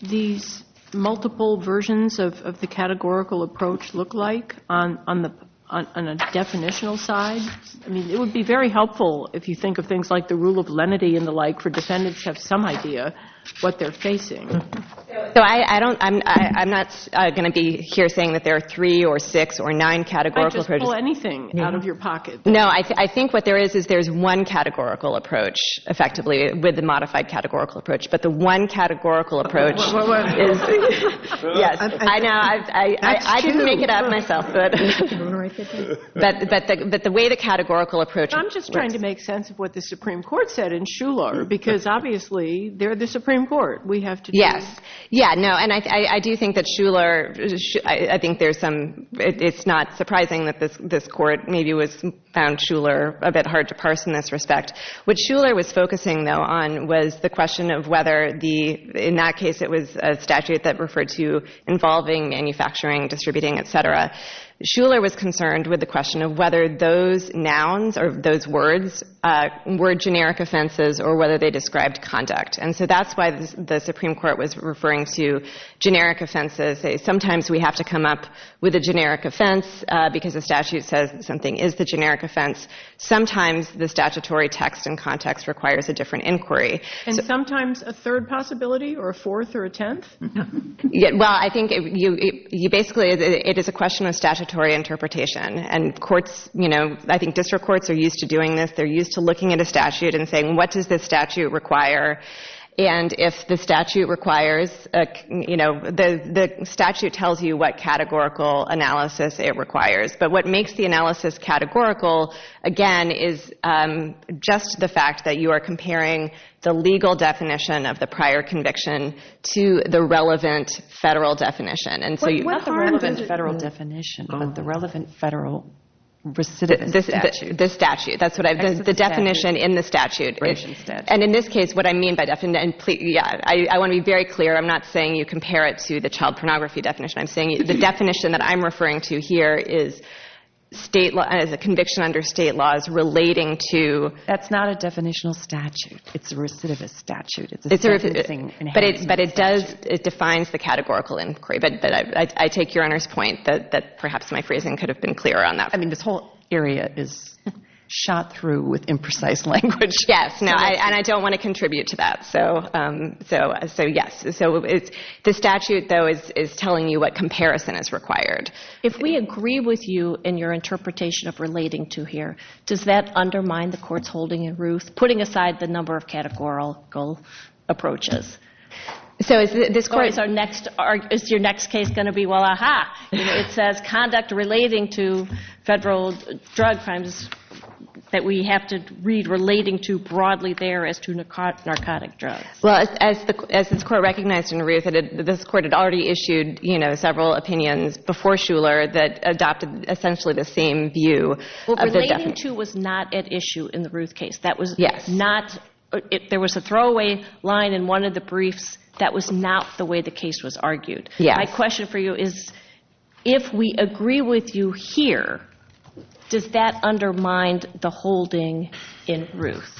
these multiple versions of the categorical approach look like on a definitional side? I mean, it would be very helpful if you think of things like the rule of lenity and the like for defendants to have some idea what they're facing. So I don't, I'm not going to be here saying that there are three or six or nine categorical approaches. I'd just pull anything out of your pocket. No, I think what there is is there's one categorical approach, effectively, with the modified categorical approach, but the one categorical approach is... Yes, I know, I didn't make it up myself, but the way the categorical approach... I'm just trying to make sense of what the Supreme Court said in Shuler, because obviously they're the Supreme Court. Yes, yeah, no, and I do think that Shuler, I think there's some, it's not surprising that this court maybe found Shuler a bit hard to parse in this respect. What Shuler was focusing, though, on was the question of whether the, in that case it was a statute that referred to involving manufacturing, distributing, et cetera. Shuler was concerned with the question of whether those nouns or those words were generic offenses or whether they described conduct. And so that's why the Supreme Court was referring to generic offenses. Sometimes we have to come up with a generic offense because the statute says something is the generic offense. Sometimes the statutory text and context requires a different inquiry. And sometimes a third possibility or a fourth or a tenth? Well, I think you basically, it is a question of statutory interpretation. And courts, you know, I think district courts are used to doing this. They're used to looking at a statute and saying, what does this statute require? And if the statute requires, you know, the statute tells you what categorical analysis it requires. But what makes the analysis categorical, again, is just the fact that you are comparing the legal definition of the prior conviction to the relevant federal definition. Not the relevant federal definition, but the relevant federal recidivist statute. The statute. That's what I, the definition in the statute. And in this case, what I mean by definition, I want to be very clear, I'm not saying you compare it to the child pornography definition. I'm saying the definition that I'm referring to here is state, is a conviction under state laws relating to. That's not a definitional statute. It's a recidivist statute. But it does, it defines the categorical inquiry. But I take Your Honor's point that perhaps my phrasing could have been clearer on that. I mean, this whole area is shot through with imprecise language. Yes, and I don't want to contribute to that. So, yes. The statute, though, is telling you what comparison is required. If we agree with you in your interpretation of relating to here, does that undermine the Court's holding in Ruth, putting aside the number of categorical approaches? So, is your next case going to be, well, ah-ha, it says conduct relating to federal drug crimes that we have to read relating to broadly there as to narcotic drugs. Well, as this Court recognized in Ruth, this Court had already issued several opinions before Shuler that adopted essentially the same view. Well, relating to was not at issue in the Ruth case. That was not, there was a throwaway line in one of the briefs. That was not the way the case was argued. My question for you is, if we agree with you here, does that undermine the holding in Ruth?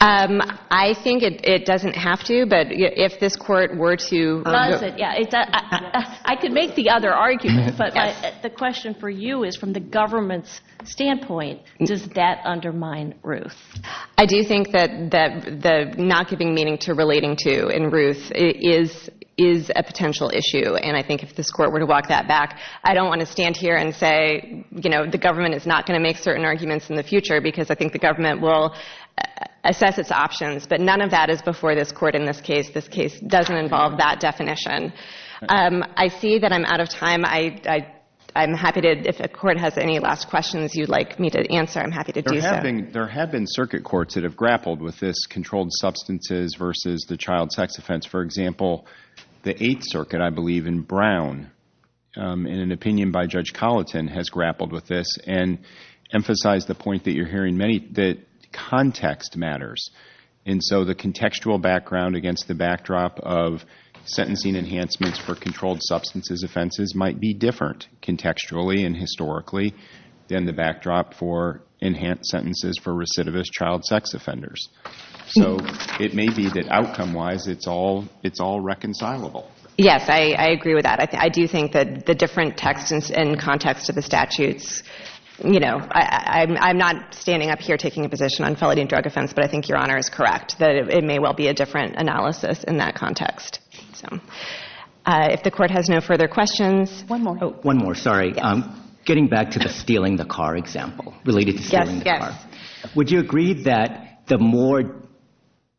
I think it doesn't have to, but if this Court were to... I could make the other argument, but the question for you is, from the government's standpoint, does that undermine Ruth? I do think that the not giving meaning to relating to in Ruth is a potential issue, and I think if this Court were to walk that back, I don't want to stand here and say, you know, the government is not going to make certain arguments in the future because I think the government will assess its options, but none of that is before this Court in this case. This case doesn't involve that definition. I see that I'm out of time. I'm happy to, if the Court has any last questions you'd like me to answer, I'm happy to do that. There have been circuit courts that have grappled with this controlled substances versus the child sex offense. For example, the Eighth Circuit, I believe, in Brown, in an opinion by Judge Colleton, has grappled with this and emphasized the point that you're hearing, that context matters. And so the contextual background against the backdrop of sentencing enhancements for controlled substances offenses might be different contextually and historically than the backdrop for enhanced sentences for recidivist child sex offenders. So it may be that outcome-wise it's all reconcilable. Yes, I agree with that. I do think that the different texts and context of the statutes, you know, I'm not standing up here taking a position on felony and drug offense, but I think Your Honor is correct, that it may well be a different analysis in that context. If the Court has no further questions... One more, sorry. Getting back to the stealing the car example, related to stealing the car, would you agree that the more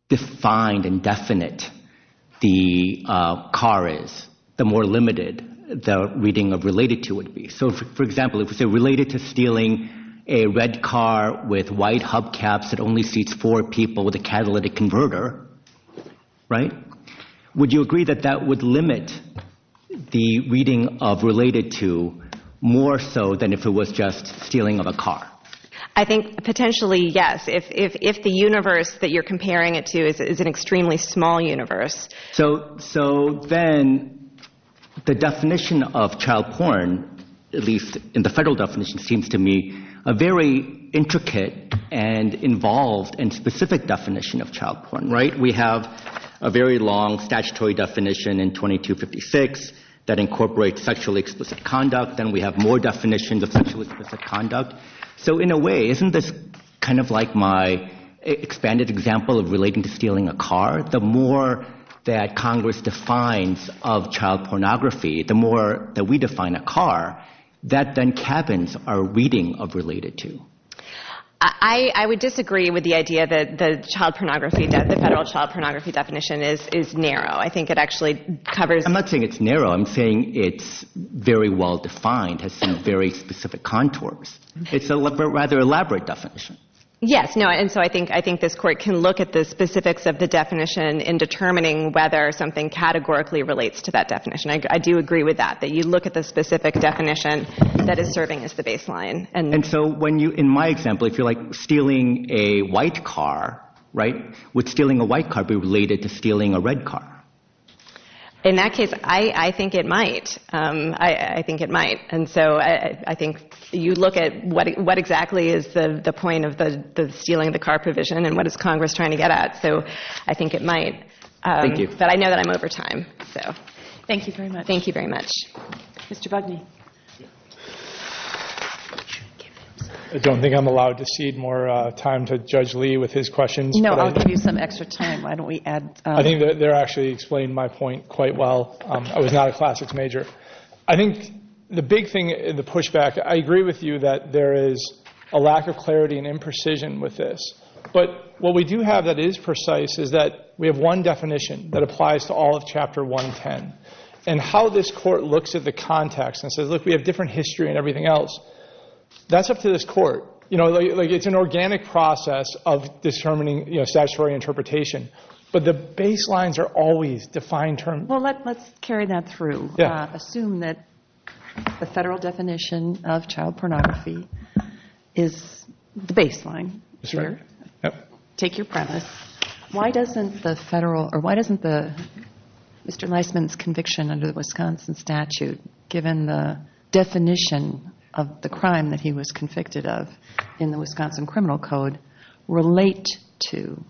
defined and definite the car is, the more limited the reading of related to would be? So, for example, if we say related to stealing a red car with white hubcaps that only seats four people with a catalytic converter, right? Would you agree that that would limit the reading of related to more so than if it was just stealing of a car? I think potentially, yes. If the universe that you're comparing it to is an extremely small universe. So then the definition of child porn, at least in the federal definition, seems to me a very intricate and involved and specific definition of child porn, right? We have a very long statutory definition in 2256 that incorporates sexually explicit conduct. Then we have more definitions of sexually explicit conduct. So, in a way, isn't this kind of like my expanded example of relating to stealing a car? The more that Congress defines of child pornography, the more that we define a car, that then cabins are reading of related to. I would disagree with the idea that the child pornography, that the federal child pornography definition is narrow. I think it actually covers... I'm not saying it's narrow. I'm saying it's very well defined, has some very specific contours. It's a rather elaborate definition. Yes, no, and so I think this court can look at the specifics of the definition in determining whether something categorically relates to that definition. I do agree with that, that you look at the specific definition that is serving as the baseline. And so, in my example, if you're like stealing a white car, right, would stealing a white car be related to stealing a red car? In that case, I think it might. I think it might. And so I think you look at what exactly is the point of the stealing of the car provision and what is Congress trying to get at. So I think it might. Thank you. But I know that I'm over time. Thank you very much. Thank you very much. Mr. Bugney. I don't think I'm allowed to cede more time to Judge Lee with his questions. No, I'll give you some extra time. Why don't we add... I think they actually explained my point quite well. I was not a classics major. I think the big thing, the pushback, I agree with you that there is a lack of clarity and imprecision with this. But what we do have that is precise is that we have one definition that applies to all of Chapter 110. And how this court looks at the context and says, look, we have different history and everything else, that's up to this court. It's an organic process of determining statutory interpretation. But the baselines are always defined terms. Well, let's carry that through. Assume that the federal definition of child pornography is the baseline here. Take your premise. Why doesn't the federal or why doesn't Mr. Leisman's conviction under the Wisconsin statute, given the definition of the crime that he was convicted of in the Wisconsin Criminal Code, relate to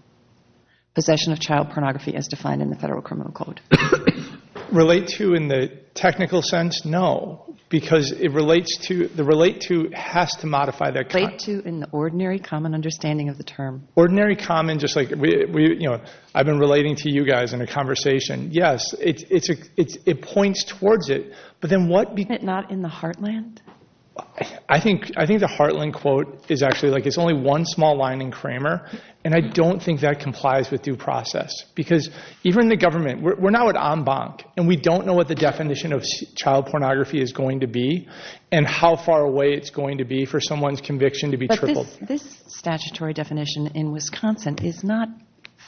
possession of child pornography as defined in the federal criminal code? Relate to in the technical sense? No. Because it relates to, the relate to has to modify their... Relate to in the ordinary common understanding of the term. Ordinary common, just like I've been relating to you guys in a conversation. Yes, it points towards it. But then what... Isn't it not in the heartland? I think the heartland quote is actually like it's only one small line in Kramer, and I don't think that complies with due process. Because even the government, we're now at en banc, and we don't know what the definition of child pornography is going to be and how far away it's going to be for someone's conviction to be tripled. But this statutory definition in Wisconsin is not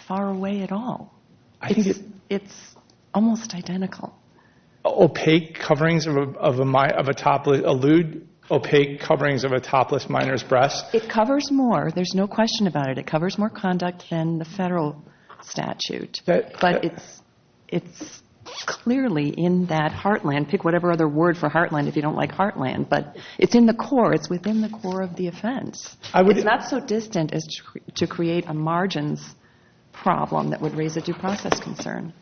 far away at all. I think it... It's almost identical. Opaque coverings of a topless... Allude opaque coverings of a topless minor's breast. It covers more. There's no question about it. It covers more conduct than the federal statute. But it's clearly in that heartland. Pick whatever other word for heartland if you don't like heartland. But it's in the core. It's within the core of the offense. It's not so distant as to create a margins problem that would raise a due process concern.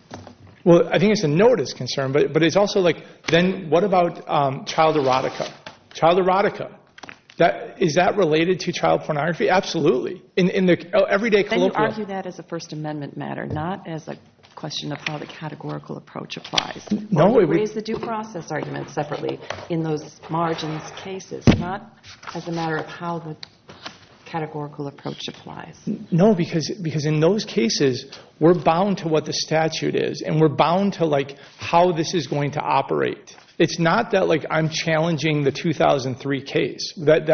Well, I think it's a notice concern, but it's also like then what about child erotica? Child erotica. Is that related to child pornography? Absolutely. In the everyday colloquial... Then you argue that as a First Amendment matter, not as a question of how the categorical approach applies. We'll raise the due process argument separately in those margins cases, not as a matter of how the categorical approach applies. No, because in those cases, we're bound to what the statute is, and we're bound to how this is going to operate. It's not that I'm challenging the 2003 case, that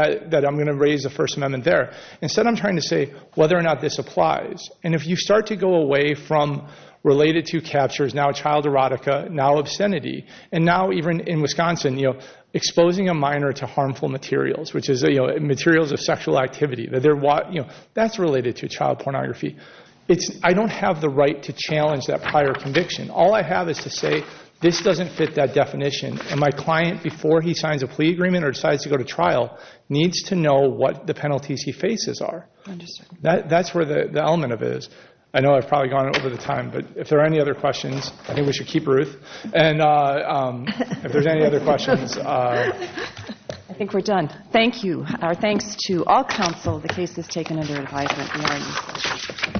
I'm going to raise the First Amendment there. Instead, I'm trying to say whether or not this applies. And if you start to go away from related to captures, now child erotica, now obscenity, and now even in Wisconsin, exposing a minor to harmful materials, which is materials of sexual activity. That's related to child pornography. I don't have the right to challenge that prior conviction. All I have is to say this doesn't fit that definition, and my client, before he signs a plea agreement or decides to go to trial, needs to know what the penalties he faces are. That's where the element of it is. I know I've probably gone over the time, but if there are any other questions, I think we should keep Ruth. And if there's any other questions. I think we're done. Thank you. Our thanks to all counsel. The case is taken under advisement.